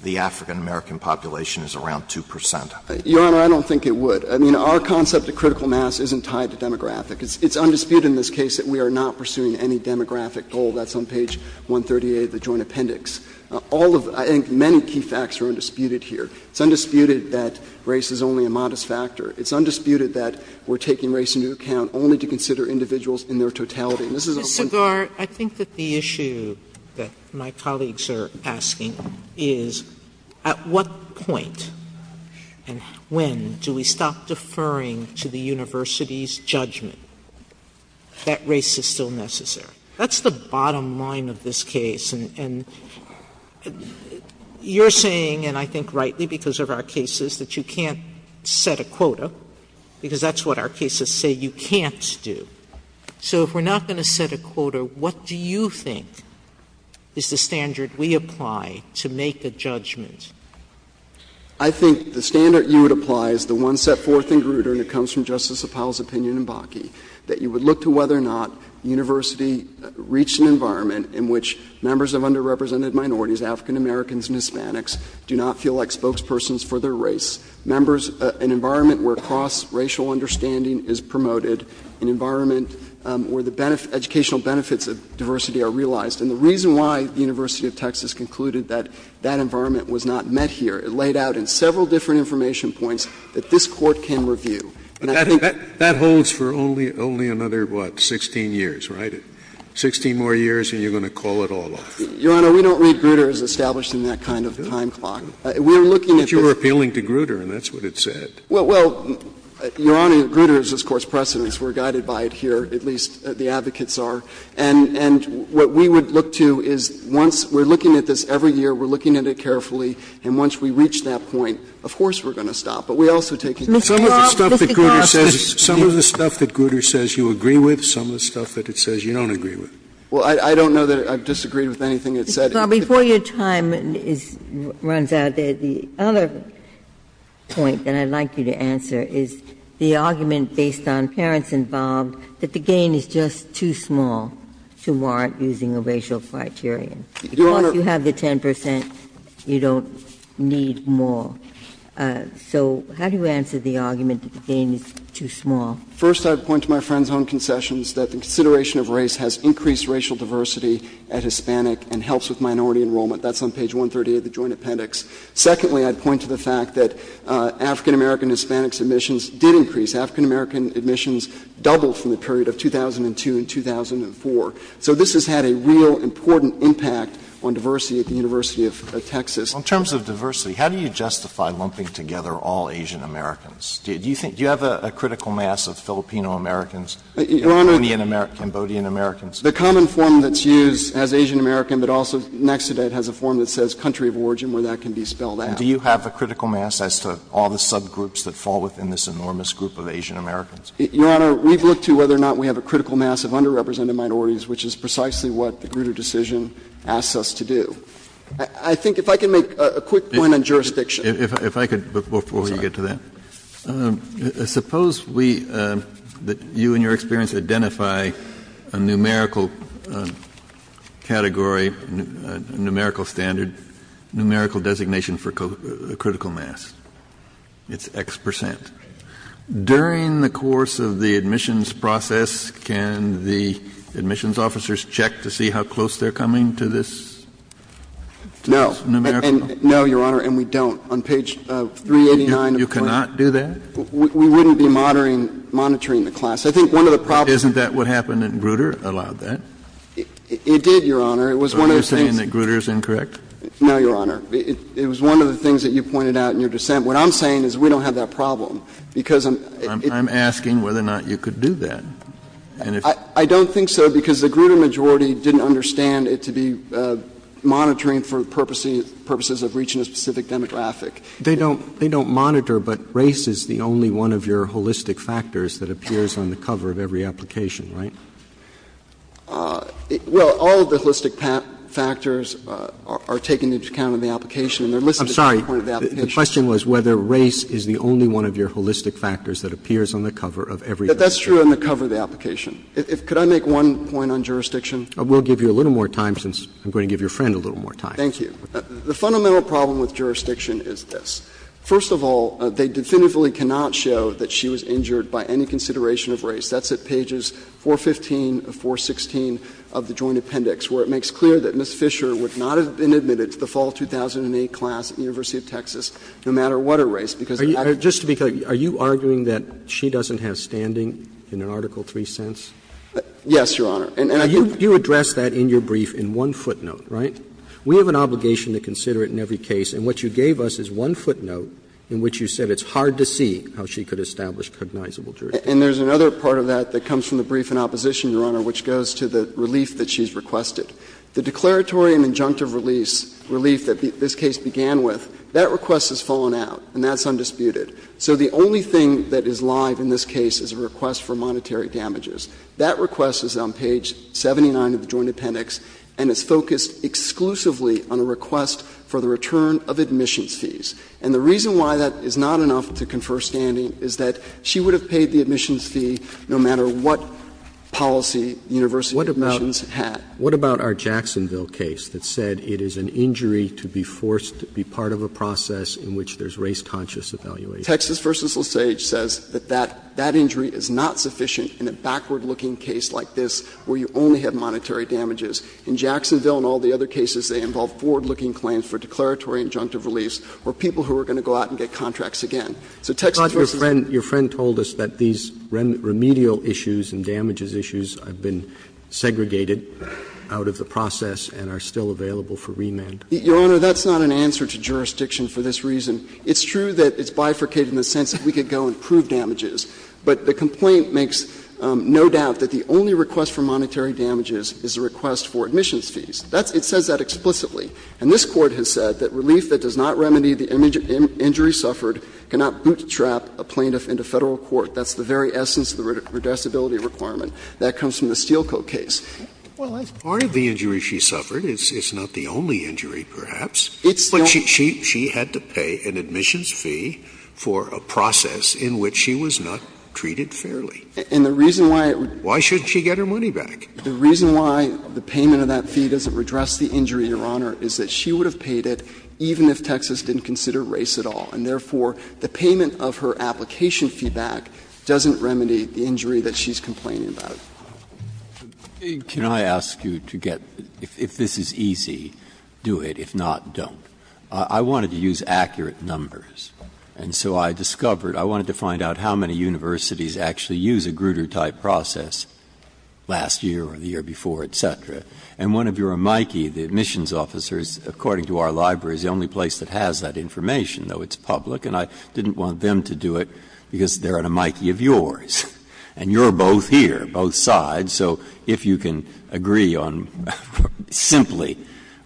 the African American population is around 2%? Your Honor, I don't think it would. I mean, our concept of critical mass isn't tied to demographic. It's undisputed in this case that we are not pursuing any demographic goal. That's on page 138 of the Joint Appendix. Many key facts are undisputed here. It's undisputed that race is only a modest factor. It's undisputed that we're taking race into account only to consider individuals in their totality. Mr. Garr, I think that the issue that my colleagues are asking is, at what point and when do we stop deferring to the university's judgment that race is still necessary? That's the bottom line of this case, and you're saying, and I think rightly because of our cases, that you can't set a quota because that's what our cases say you can't do. So if we're not going to set a quota, what do you think is the standard we apply to make a judgment? I think the standard you would apply is the one set forth in Grutter, and it comes from that you would look to whether or not university reach an environment in which members of underrepresented minorities, African Americans and Hispanics, do not feel like spokespersons for their race. Members, an environment where cross-racial understanding is promoted, an environment where the educational benefits of diversity are realized. And the reason why the University of Texas concluded that that environment was not met here, it laid out in several different information points that this Court can review. That holds for only another what, 16 years, right? 16 more years and you're going to call it all off. Your Honor, we don't read Grutter as established in that kind of time clock. If you were appealing to Grutter, and that's what it said. Well, Your Honor, Grutter is this Court's precedence. We're guided by it here, at least the advocates are. And what we would look to is once we're looking at this every year, we're looking at it carefully, and once we reach that point, of course we're going to stop. But we also take some of the stuff that Grutter says you agree with, some of the stuff that it says you don't agree with. Well, I don't know that I've disagreed with anything it said. Mr. Bromley, before your time runs out there, the other point that I'd like you to answer is the argument based on parents involved that the game is just too small to warrant using a racial criterion. Your Honor. Because you have the 10%, you don't need more. So how do you answer the argument that the game is too small? First, I'd point to my friend's own concessions that the consideration of race has increased racial diversity as Hispanic and helps with minority enrollment. That's on page 130 of the Joint Appendix. Secondly, I'd point to the fact that African-American and Hispanics admissions did increase. African-American admissions doubled from the period of 2002 and 2004. So this has had a real important impact on diversity at the University of Texas. In terms of diversity, how do you justify lumping together all Asian-Americans? Do you have a critical mass of Filipino-Americans and Cambodian-Americans? The common form that's used as Asian-American but also next to that has a form that says country of origin where that can be spelled out. Do you have a critical mass as to all the subgroups that fall within this enormous group of Asian-Americans? Your Honor, we've looked to whether or not we have a critical mass of underrepresented minorities, which is precisely what the Grutter decision asks us to do. A quick point on jurisdiction. Before you get to that. Suppose you and your experience identify a numerical category, numerical standard, numerical designation for critical mass. It's X percent. During the course of the admissions process, can the admissions officers check to see how close they're coming to this numerical? No, Your Honor, and we don't. On page 389 You cannot do that? We wouldn't be monitoring the class. Isn't that what happened at Grutter? It did, Your Honor. Are you saying that Grutter is incorrect? No, Your Honor. It was one of the things that you pointed out in your dissent. What I'm saying is we don't have that problem. I'm asking whether or not you could do that. I don't think so because the Grutter majority didn't understand it to be monitoring for purposes of reaching a specific demographic. They don't monitor, but race is the only one of your holistic factors that appears on the cover of every application, right? Well, all of the holistic factors are taken into account in the application. I'm sorry. The question was whether race is the only one of your holistic factors that appears on the cover of every application. That's true on the cover of the application. Could I make one point on jurisdiction? We'll give you a little more time since I'm going to give your friend a little more time. Thank you. The fundamental problem with jurisdiction is this. First of all, they definitively cannot show that she was injured by any consideration of race. That's at pages 415 and 416 of the Joint Appendix where it makes clear that Ms. Fisher would not have been admitted to the fall 2008 class at the University of Texas no matter what her race because of that. Just to be clear, are you arguing that she doesn't have standing in Article 3 sense? Yes, Your Honor. And you addressed that in your brief in one footnote, right? We have an obligation to consider it in every case, and what you gave us is one footnote in which you said it's hard to see how she could establish cognizable jurisdiction. And there's another part of that that comes from the brief in opposition, Your Honor, which goes to the relief that she's requested. The declaratory and injunctive relief that this case began with, that request has fallen out, and that's undisputed. So the only thing that is live in this case is a request for monetary damages. That request is on page 79 of the Joint Appendix, and it's focused exclusively on a request for the return of admissions fees. And the reason why that is not enough to confer standing is that she would have paid the admissions fee no matter what policy University admissions had. What about our Jacksonville case that said it is an confer standing is because there's a process in which there's race-conscious evaluation. Texas v. Salisage says that that injury is not sufficient in a backward-looking case like this where you only have monetary damages. In Jacksonville and all the other cases, they involve forward-looking claims for declaratory injunctive reliefs for people who are going to go out and get contracts again. So Texas v. Salisage does not have that. It's true that it's bifurcated in the sense that we could go and prove damages, but the complaint makes no doubt that the only request for monetary damages is a request for admissions fees. It says that explicitly. And this Court has said that relief that does not remedy the injury suffered cannot bootstrap a plaintiff into Federal court. That's the very essence of the redressability requirement. That comes from the Steel Coat case. Well, that's part of the injury she suffered. It's not the only injury, perhaps. It's not. She had to pay an admissions fee for a process in which she was not treated fairly. And the reason why — Why should she get her money back? The reason why the payment of that fee doesn't redress the injury, Your Honor, is that she would have paid it even if Texas didn't consider race at all. And therefore, the payment of her application feedback doesn't remedy the injury that she's complaining about. Can I ask you to get — if this is easy, do it. If not, don't. I wanted to use accurate numbers. And so I discovered — I wanted to find out how many universities actually use a Grutter-type process last year or the year before, et cetera. And one of your amici, the admissions officers, according to our library, is the only place that has that information, though it's public. And I didn't want them to do it because they're an amici of yours. And you're both here, both sides. So if you can agree on simply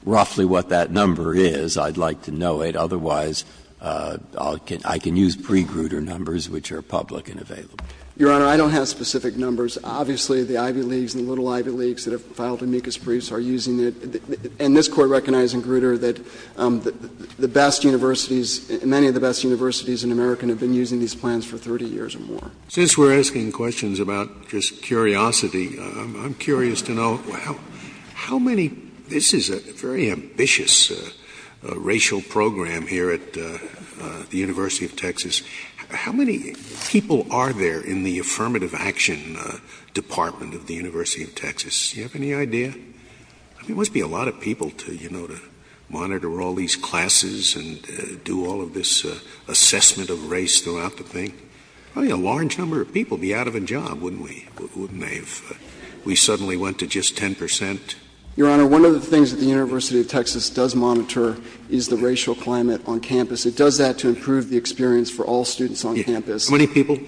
roughly what that number is, I'd like to know it. Otherwise, I can use pre-Grutter numbers, which are public and available. Your Honor, I don't have specific numbers. Obviously, the Ivy Leagues and the Little Ivy Leagues that have filed amicus briefs are using it. And this Court recognizes in Grutter that the best universities — many of the best universities in America have been using these plans for 30 years or more. Since we're asking questions about just curiosity, I'm curious to know, well, how many people are there in the Affirmative Action Department of the University of Texas? Do you have any idea? There must be a lot of people to, you know, to monitor all these classes and do all of this assessment of race throughout the thing. Probably a large number of people would be out of a job, wouldn't we? Wouldn't they if we suddenly went to it's a very ambitious racial program here at the University of Texas. How much of what the University of Texas does monitor is the racial climate on campus. It does that to improve the experience for all students on campus. How many people?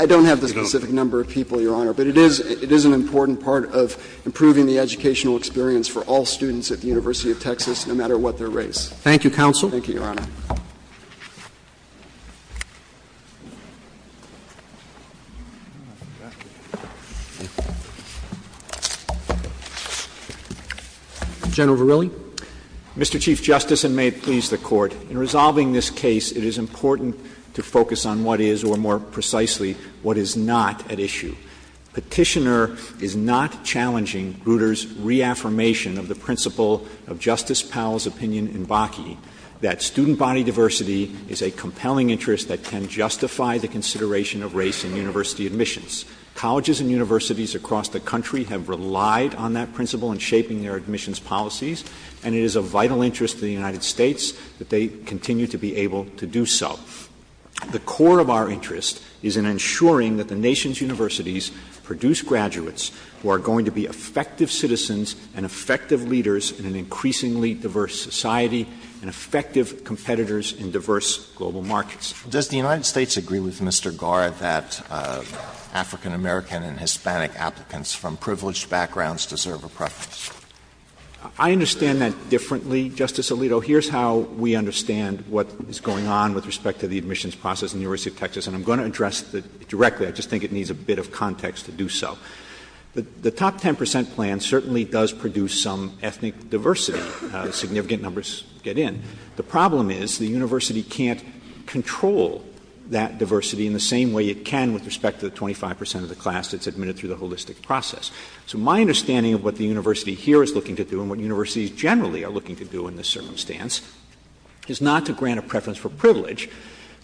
I don't have the specific number of people, Your Honor, but it is an important part of improving the educational experience for all students at the University of Texas no matter what their race. Thank you, Counsel. Thank you, Your Honor. Mr. Chief Justice, and may it please the Court, in resolving this case, it is important to focus on what is, or more precisely, what is not at issue. Petitioner is not challenging Grutter's reaffirmation of the principle of Justice Powell's opinion in Bakke that student body diversity is a compelling interest that can justify the consideration of race in university admissions. Colleges and universities across the country have relied on that principle in shaping their admissions policies, but it is important to recognize that there is a need for diversity in universities, and it is a vital interest to the United States that they continue to be able to do so. The core of our interest is in ensuring that the nation's universities produce graduates who are going to be effective citizens and effective leaders in an increasingly diverse society and effective competitors in diverse global markets. Does the United States agree with Mr. Garr that African-American and Hispanic applicants from privileged backgrounds deserve a preference? I understand that differently, Justice Alito. Here's how we understand what is going on with respect to the admissions process in the University of Texas, and I'm going to address it directly. I just think it needs a bit of context to do so. The top 10 percent plan certainly does produce some ethnic diversity, significant numbers get in. The problem is the university can't control that diversity in the same way it can with respect to the 25 percent of the class that's admitted to the holistic process. So my understanding of what the university here is looking to do and what universities generally are looking to do in this circumstance is not to grant a preference for privilege,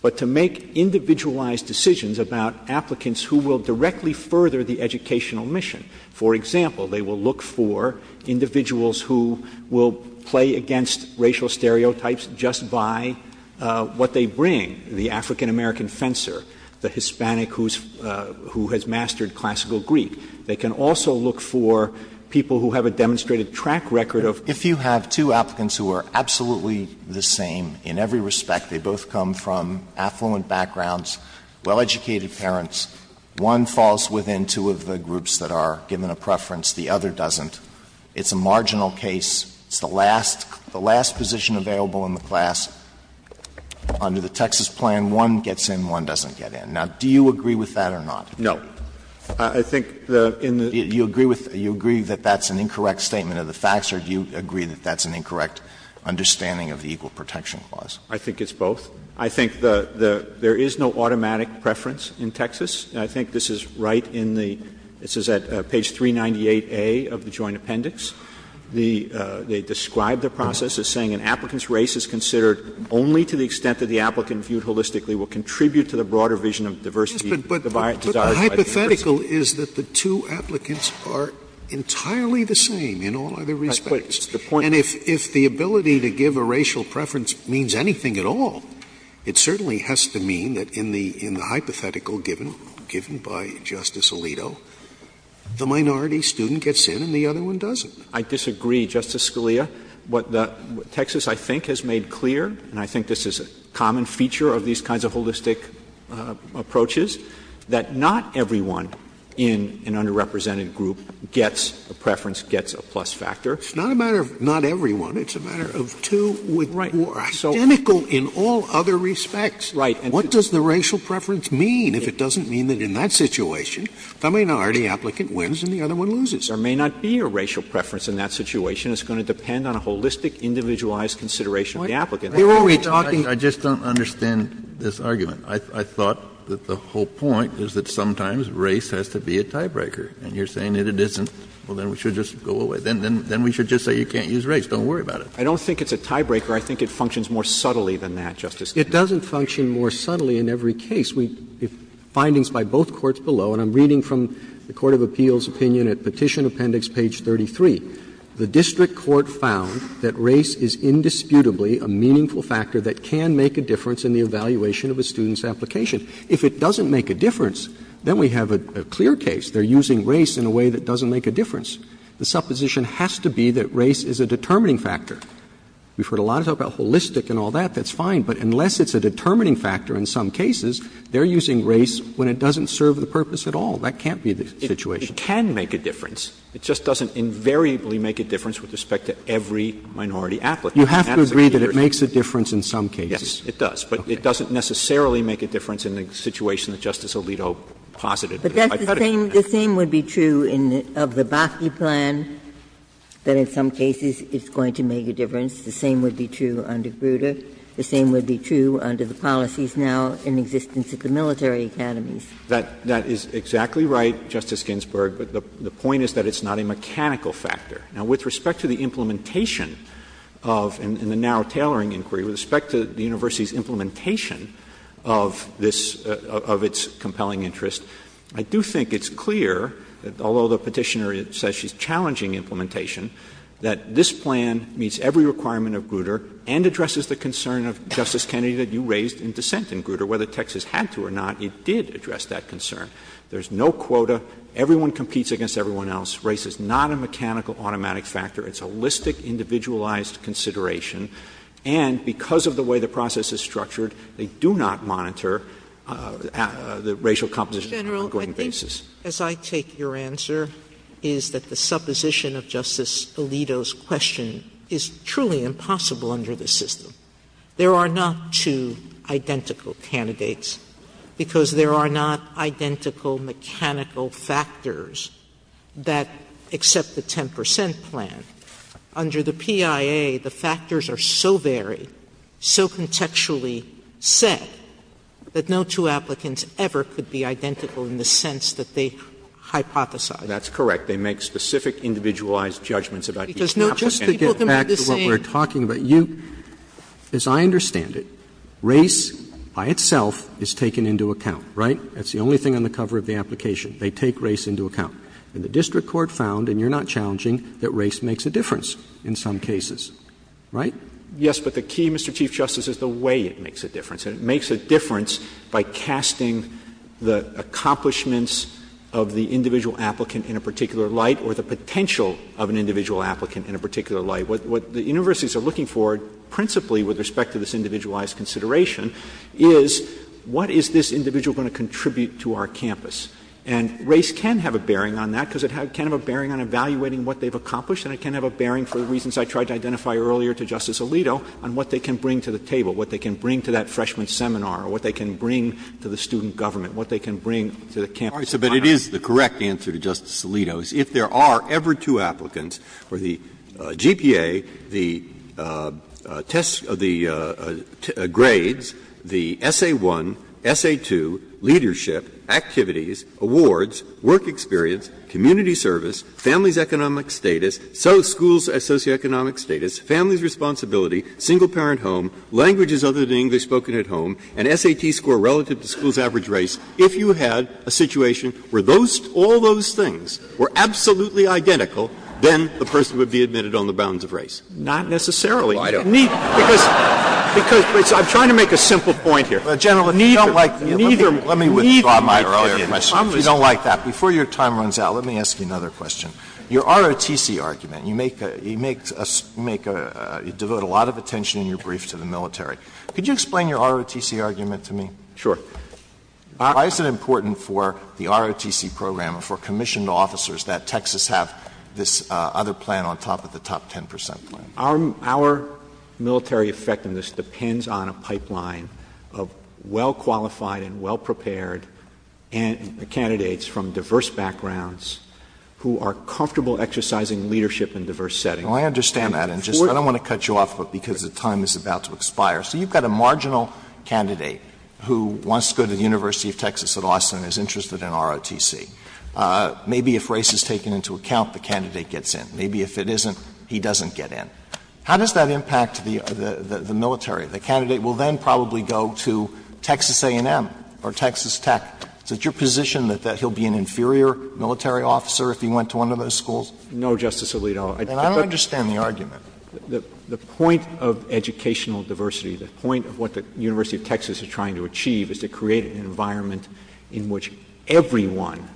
but to make individualized decisions about applicants who will directly further the educational mission. For example, they will look for individuals who will play against racial stereotypes just by what they bring, the African-American fencer, the Hispanic who has mastered classical Greek. They can also look for people who have a demonstrated track record of if you have two applicants who are absolutely the same in every respect, they both come from affluent backgrounds, well-educated parents, one falls within two of the groups that are given a preference, the other doesn't. It's a marginal case. It's the last position available in the class. Under the Texas plan, one gets in, one doesn't get in. Now, do you agree with that or not? No. I think you agree that that's an incorrect statement of the facts, or do you agree that that's an incorrect understanding of the Equal Protection Clause? I think it's both. I think there is no automatic preference in Texas. I think this is right in the page 398A of the joint appendix. They describe the process as saying an applicant's race is considered only to the extent that the applicant viewed holistically will contribute to the broader vision of diversity divided by... But the hypothetical is that the two applicants are entirely the same in all other respects. And if the ability to give a racial preference means anything at all, it certainly has to mean that in the hypothetical given by Justice Alito, the minority student gets in and the other one doesn't. I disagree, Justice Scalia. What Texas I think has made clear, and I think this is a common feature of these kinds of holistic approaches, that not everyone in an underrepresented group gets a preference, gets a plus factor. It's not a matter of not everyone. It's a matter of two who are identical in all other respects. What does the racial preference mean if it doesn't mean that in that situation the minority applicant wins and the other one loses? There may not be a racial preference in that situation. It's going to depend on a holistic, individualized consideration of the applicant. I just don't understand this argument. I thought that the whole point is that sometimes race has to be a tiebreaker. And you're saying that it isn't. Well, then we should just go away. Then we should just say you can't use race. Don't worry about it. I don't think it's a tiebreaker. I think it functions more subtly than that, Justice Scalia. It doesn't function more subtly in every case. The findings by both courts below, and I'm reading from the Court of Appeals opinion at Petition Appendix page 33, the district court found that race is indisputably a meaningful factor that can make a difference in the evaluation of a student's application. If it doesn't make a difference, then we have a clear case. They're using race in a way that doesn't make a difference. The supposition has to be that race is a determining factor. We've heard a lot of talk about holistic and all that. That's fine. But unless it's a determining factor in some cases, they're using race when it doesn't serve the purpose at all. That can't be the situation. It can make a difference. It just doesn't invariably make a difference with respect to every minority applicant. You have to agree that it makes a difference in some cases. Yes, it does. But it doesn't necessarily make a difference in the situation that Justice Alito posited. The same would be true of the Bakke plan, that in some cases it's going to make a difference. The same would be true under Grutter. The same would be true under the policies now in existence of the military academies. That is exactly right, Justice Ginsburg, but the point is that it's not a mechanical factor. Now, with respect to the implementation of, in the now tailoring inquiry, with respect to the university's implementation of this, of its compelling interest, I do think it's clear that although the petitioner says she's challenging implementation, that this plan meets every requirement of Grutter and addresses the concern of Justice Kennedy that you raised in dissent in Grutter, whether Texas had to or not, it did address that concern. There's no reason why it's not a mechanical factor. It's a holistic, individualized consideration, and because of the way the process is structured, they do not monitor the racial composition on an ongoing basis. General, I think, as I take your answer, is that the supposition of Justice Alito's question is truly impossible under this system. There are not two identical candidates because there are not identical mechanical factors that accept the 10 percent plan. Under the PIA, the factors are so varied, so contextually set, that no two applicants ever could be identical in the sense that they hypothesize. That's correct. They make specific individualized judgments about each applicant. Just to get back to what we're talking about, as I understand it, race by itself is taken into account, right? That's the only thing on the cover of the application. They take race into account. The district court found, and you're not challenging, that race makes a difference in some cases, right? Yes, but the key, Mr. Chief Justice, is the way it makes a difference. It makes a difference by casting the accomplishments of the individual applicant in a particular light or the potential of an individual applicant in a particular light. What the universities are looking for principally with respect to this individualized consideration is what is this individual going to contribute to our campus? And race can have a bearing on that because it can have a bearing on evaluating what they've accomplished, and it can have a bearing, for the reasons I tried to identify earlier to Justice Alito, on what they can bring to the table, what they can bring to that freshman seminar, or what they can bring to the student government, what they can bring to the campus. But it is the correct answer to Justice Alito's. If there are ever two applicants for the GPA, the tests of the grades, the SA1, SA2, leadership, activities, awards, work experience, community service, family's economic status, school's socioeconomic status, family's responsibility, single-parent home, languages other than English spoken at home, and SAT score relative to school's average race, if you had a situation where all those things were absolutely identical, then the person would be admitted on the bounds of race. Not necessarily, Mr. Chief Justice. Because, I'm trying to make a simple point here. General, you don't like neither of my arguments. You don't like that. Before your time runs out, let me ask you another question. Your ROTC argument, you make, you devote a lot of attention in your brief to the military. Could you explain your ROTC argument to me? Sure. Why is it important for the ROTC program, for commissioned officers, that Texas have this other plan on top of the top 10% plan? Our military effectiveness depends on a pipeline of well-qualified and well-prepared candidates from diverse backgrounds who are comfortable exercising leadership in diverse settings. I understand that. I don't want to cut you off because the time is about to expire. You've got a marginal candidate who wants to go to the University of Texas at Austin and is interested in ROTC. Maybe if race is taken into account, the candidate gets in. Maybe if it isn't, he doesn't get in. How does that impact the military? The candidate will then probably go to Texas A&M or Texas Tech. Is it your position that he'll be an inferior military officer if he went to one of those schools? No, Justice Alito. And I understand the argument. The point of educational diversity, the point of what the University of Texas is trying to achieve, is to create an environment in which everyone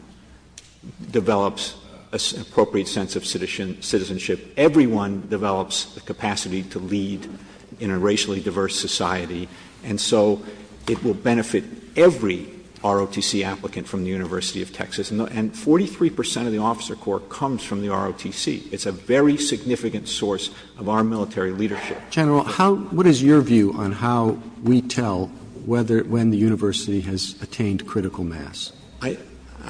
develops an appropriate sense of citizenship. Everyone develops the capacity to lead in a racially diverse society. And so it will benefit every ROTC applicant from the University of Texas. And 43% of the officer corps comes from the ROTC. It's a very significant source of our military leadership. General, what is your view on how we tell when the university has attained critical mass?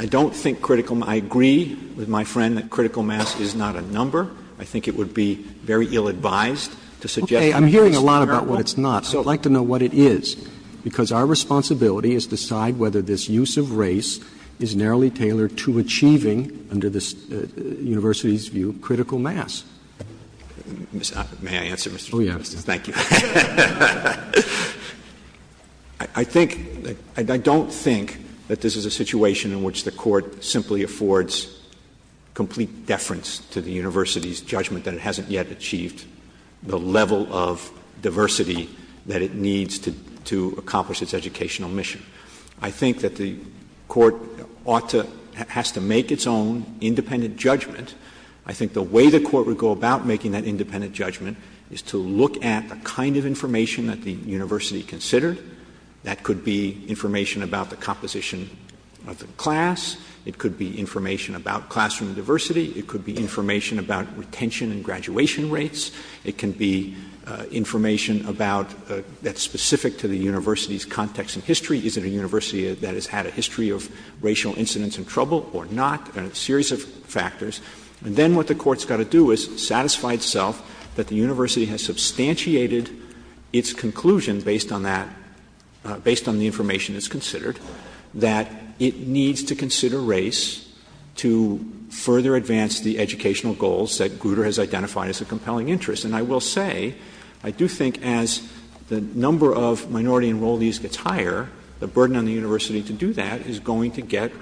I don't think critical... I agree with my friend that critical mass is not a number. I think it would be very ill-advised to suggest... Okay, I'm hearing a lot about what it's not. So I'd like to know what it is. Because our responsibility is to decide whether this use of race is narrowly tailored to achieving, under this university's view, critical mass. May I answer? Oh, yeah. Thank you. I think... I don't think that this is a situation in which the court simply affords complete deference to the university's judgment that it hasn't yet achieved the level of diversity that it needs to accomplish its educational mission. I think that the court ought to... has to make its own independent judgment. I think the way the court would go about making that independent judgment is to look at a kind of information that the university considered. That could be information about the composition of the class. It could be information about classroom diversity. It could be information about retention and graduation rates. It can be information about... that's specific to the university's context and history. Is it a university that has had a history of racial incidents and trouble or not? A series of factors. And then what the court's got to do is satisfy itself that the university has substantiated its conclusion based on that... based on the information that's considered that it needs to consider race to further advance the educational goals that Grutter has identified as a compelling interest. And I will say, I do think as the number of minority enrollees retire, the burden on the university to do that is going to get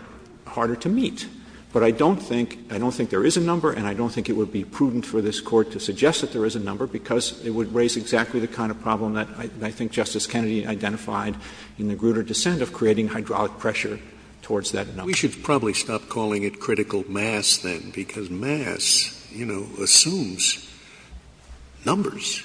harder to meet. But I don't think... I don't think there is a number, and I don't think it would be prudent for this court to suggest that there is a number because it would raise exactly the kind of problem that I think Justice Kennedy identified in the Grutter dissent of creating hydraulic pressure towards that number. We should probably stop calling it critical mass then because mass, you know, assumes numbers.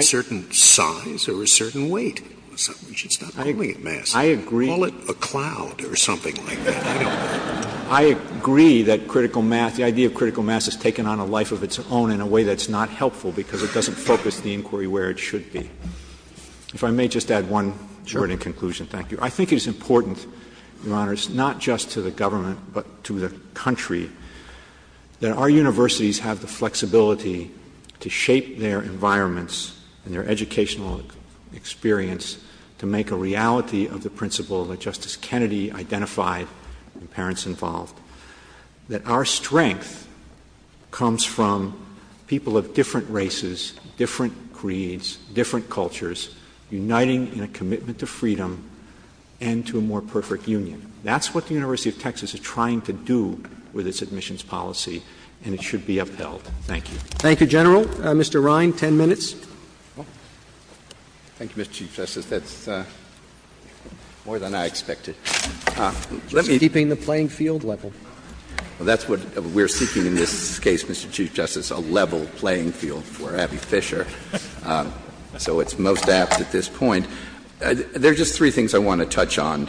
Certain size or a certain weight. We should stop calling it mass. I agree. Call it a cloud or something like that. I agree that critical mass... the idea of critical mass has taken on a life of its own in a way that's not helpful because it doesn't focus the inquiry where it should be. If I may just add one... I think it's important, Your Honor, not just to the government but to the country that our universities have the flexibility to shape their environments and their educational experience to make a reality of the principle that Justice Kennedy identified and parents involved. That our strength comes from people of different races, different creeds, different cultures uniting in a commitment to freedom and to a more perfect union. That's what the University of Texas is trying to do with its admissions policy and it should be upheld. Thank you. Thank you, General. Mr. Ryan, ten minutes. Thank you, Mr. Chief Justice. That's more than I expected. Keeping the playing field level. That's what we're seeking in this case, Mr. Chief Justice, a level playing field for Abby Fisher. So it's most apt at this point. There's just three things I want to touch on.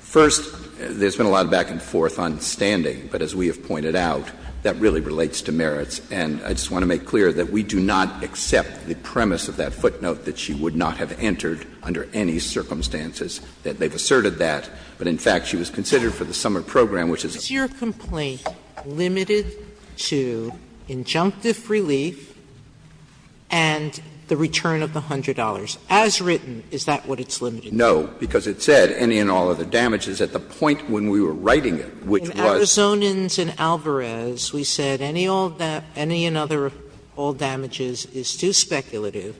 First, there's been a lot of back and forth on standing, but as we have pointed out, that really relates to merits and I just want to make clear that we do not accept the premise of that footnote that she would not have entered under any circumstances that they've asserted that but, in fact, she was considered for the summer program, which is... Is your complaint limited to injunctive relief and the return of the $100? As written, is that what it's limited to? No, because it said any and all of the damages at the point when we were writing it, which was... In Alvarez, we said any and all damages is too speculative.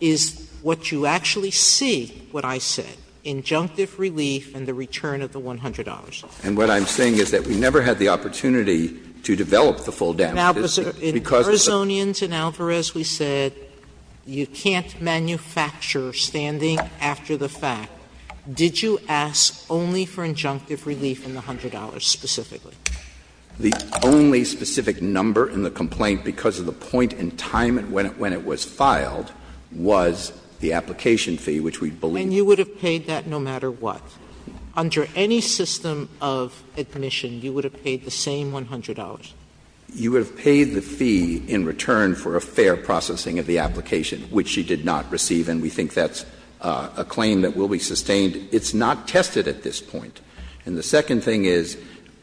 Is what you actually see, what I see, is the return of the $100. And what I'm saying is that we never had the opportunity to develop the full damage. In Arzonians, in Alvarez, we said you can't manufacture standing after the fact. Did you ask only for injunctive relief in the $100 specifically? The only specific number in the complaint because of the point in time when it was filed was the application fee, which we believe... And you would have paid that no matter what? Under any system of admonition, you would have paid the same $100? You would have paid the fee in return for a fair processing of the application, which you did not receive, and we think that's a claim that will be sustained. It's not tested at this point. And the second thing is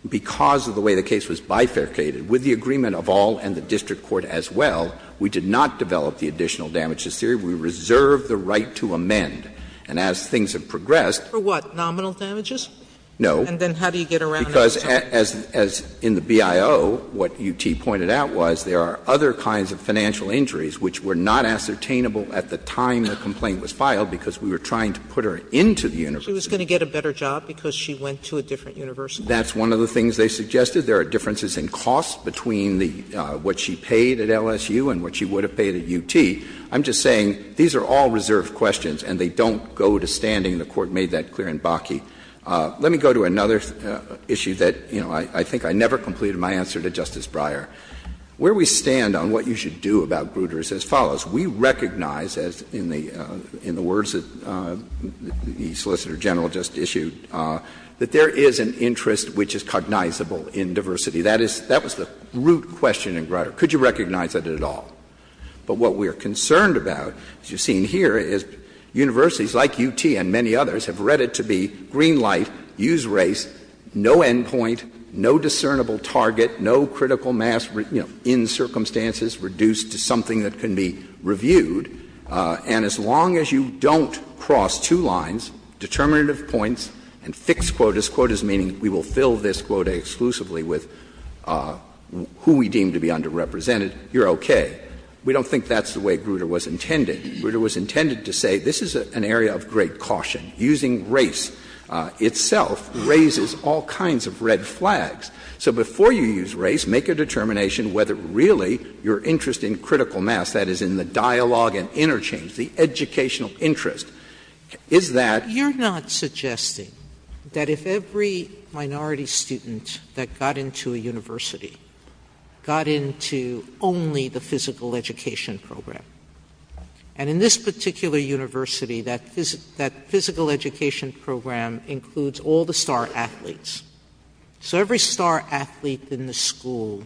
because of the way the case was bifurcated, with the agreement of all and the district court as well, we did not develop the additional damages theory. We reserved the right to amend. And as things have progressed... For what? Nominal damages? No. And then how do you get around... Because as in the BIO, what UT pointed out was there are other kinds of financial injuries which were not ascertainable at the time the complaint was filed because we were trying to put her into the university. She was going to get a better job because she went to a different university? That's one of the things they suggested. There are differences in costs between what she paid at LSU and what she would have paid at UT. I'm just saying these are all reserved questions and they don't go to standing. The Court made that clear in Bakke. Let me go to another issue that, you know, I think I never completed my answer to Justice Breyer. Where we stand on what you should do about Grutter is as follows. We recognize, as in the words that the Solicitor General just issued, that there is an interest which is cognizable in diversity. That was the root question in Grutter. Could you recognize it at all? But what we are concerned about, as you see here, is universities like UT and many others have read it to be green light, use race, no end point, no discernible target, no critical mass in circumstances reduced to something that can be reviewed, and as long as you don't cross two lines, determinative points, and fixed quotas, quotas meaning we will fill this quota exclusively with who we deem to be underrepresented, you're okay. We don't think that's the way Grutter was intending. Grutter was intended to say this is an area of great caution. Using race itself raises all kinds of red flags. So before you use race, make a determination whether really your interest in critical mass, that is in the dialogue and interchange, the educational interest, is that— You're not suggesting that if every minority student that got into a university got into only the physical education program, and in this particular university that physical education program includes all the star athletes, so every star athlete in the school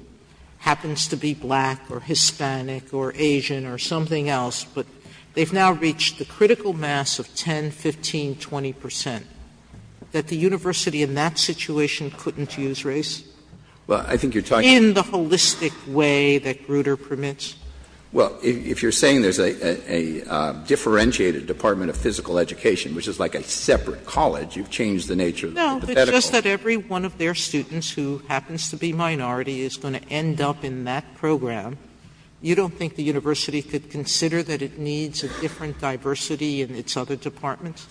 happens to be black or Hispanic or Asian or something else, but they've now reached the critical mass of 10, 15, 20 percent, that the university in that situation couldn't use race? In the holistic way that Grutter permits? If you're saying there's a differentiated department of physical education, which is like a separate college, you've changed the nature of the medical— No, it's just that every one of their students who happens to be minority is going to end up in that program. You don't think the university could consider that it needs a different diversity in its other departments?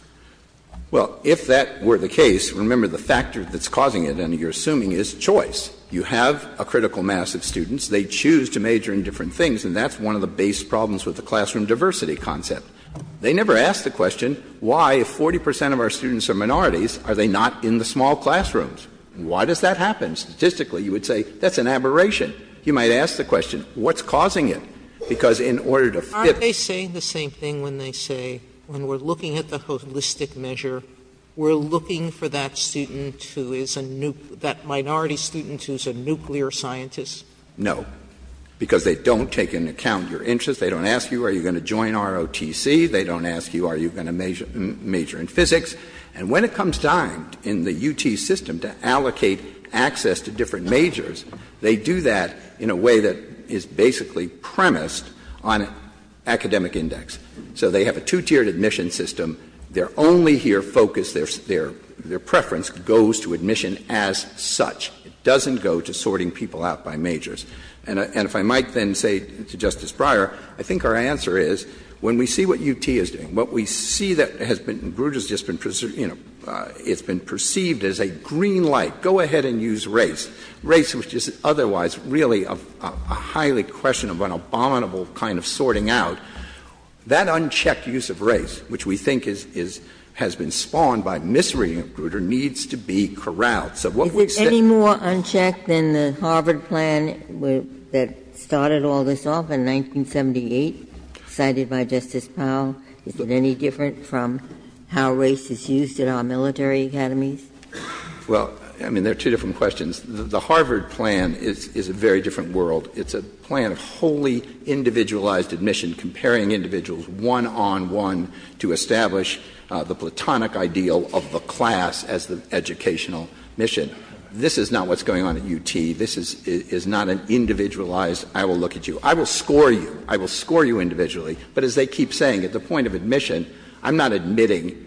Well, if that were the case, remember the factor that's causing it, and you're assuming is choice. You have a critical mass of students. They choose to major in different things, and that's one of the base problems with the classroom diversity concept. They never ask the question why, if 40 percent of our students are minorities, are they not in the small classrooms? Why does that happen? Statistically, you would say, that's an aberration. You might ask the question, what's causing it? Because in order to fit— Are they saying the same thing when they say, when we're looking at the holistic measure, we're looking for that student who is a minority student who's a nuclear scientist? No. Because they don't take into account your interests. They don't ask you, are you going to join ROTC? They don't ask you, are you going to major in physics? And when it comes time in the UT system to allocate access to different majors, they do that in a way that is basically premised on academic index. So they have a two-tiered admission system. Their only here focus, their preference goes to admission as such. It doesn't go to sorting people out by majors. And if I might then say to Justice Breyer, I think our answer is, when we see what UT is doing, what we see that has been—and Brutus has just been perceived as a green light, go ahead and use race. Race, which is otherwise really a highly questionable, abominable kind of sorting out, that unchecked use of race, which we think has been spawned by misery, needs to be corralled. Is it any more unchecked than the Harvard plan that started all this off in 1978, cited by Justice Powell? Is it any different from how race is used in our military academies? There are two different questions. The Harvard plan is a very different world. It's a plan of wholly individualized admission, comparing individuals one-on-one to establish the platonic ideal of the class as the educational mission. This is not what's going on at UT. This is not an individualized, I will look at you. I will score you. I will score you individually. But as they keep saying, at the point of admission, I'm not admitting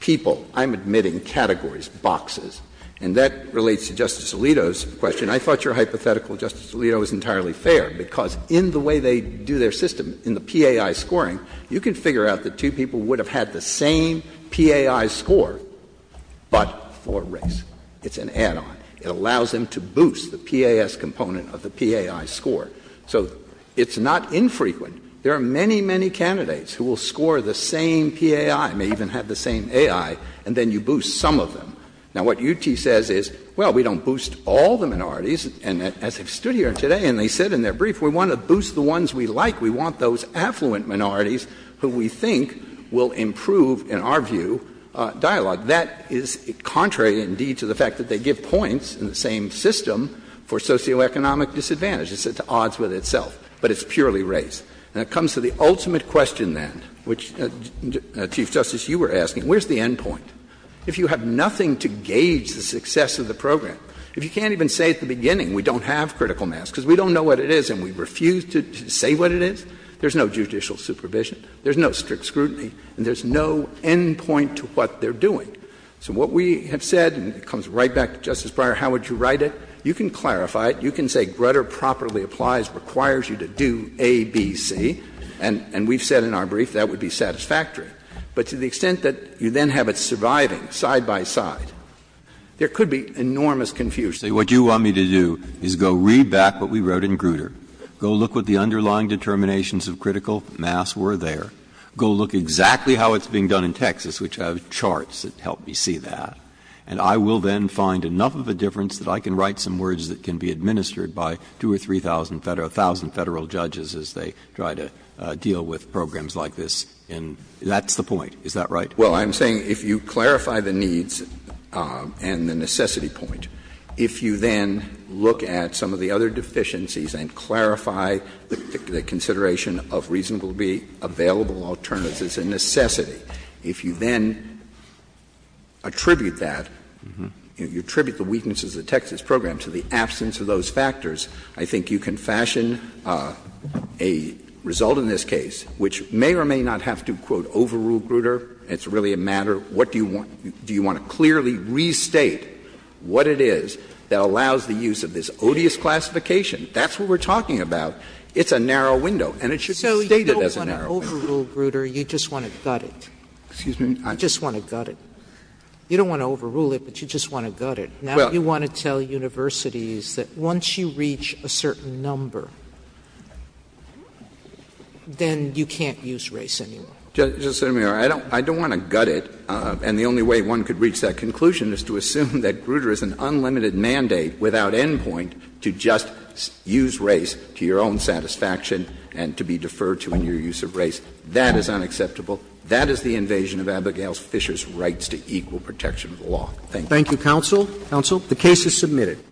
people. I'm admitting categories, boxes. And that relates to Justice Alito's question. I thought your hypothetical, Justice Alito, was entirely fair, because in the way they do their system, in the PAI scoring, you can figure out that two people would have had the same PAI score, but for race. It's an add-on. It allows them to boost the PAS component of the PAI score. So, it's not infrequent. There are many, many candidates who will score the same PAI, may even have the same AI, and then you boost some of them. Now, what UT says is, well, we don't boost all the minorities. And as I stood here today, and they said in their brief, we want to boost the ones we like. We want those affluent minorities who we think will improve, in our view, dialogue. That is contrary, indeed, to the fact that they give points in the same system for socioeconomic disadvantage. It's at odds with itself. But it's purely race. And it comes to the ultimate question, then, which, Chief Justice, you were asking, where's the end point? If you have nothing to gauge the success of the program, if you can't even say at the beginning, we don't have critical mass because we don't know what it is and we refuse to say what it is, there's no judicial supervision, there's no strict scrutiny, and there's no end point to what they're doing. So, what we have said, and it comes right back to Justice Breyer, how would you write it? You can clarify it. You can say Grutter properly applies, requires you to do A, B, C, and we've said in our brief that would be satisfactory. But to the extent that you then have it surviving side by side, there could be enormous confusion. What you want me to do is go read back what we wrote in Grutter. Go look what the underlying determinations of critical mass were there. Go look exactly how it's being done in Texas, which have charts that help me see that. And I will then find enough of a difference that I can write some words that can be administered by two or three thousand federal judges as they try to deal with programs like this. And that's the point. Is that right? Well, I'm saying if you clarify the needs and the necessity point, if you then look at some of the other deficiencies and clarify the consideration of reasonably available alternatives and necessity, if you then attribute that, if you attribute the weaknesses of the Texas program to the absence of those factors, I think you can fashion a result in this case, which may or may not have to, quote, overrule Grutter. It's really a matter of do you want to clearly restate what it is that allows the use of this odious classification? That's what we're talking about. It's a narrow window. So you don't want to overrule Grutter. You just want to gut it. You don't want to overrule it, but you just want to gut it. Now you want to tell universities that once you reach a certain number, then you can't use race anymore. I don't want to gut it, and the only way one could reach that conclusion is to assume that Grutter is an unlimited mandate without endpoint to just use race to your own satisfaction and to be deferred to in your use of race. That is unacceptable. That is the invasion of Abigail Fisher's rights to equal protection of law. Thank you. Thank you, counsel. The case is submitted.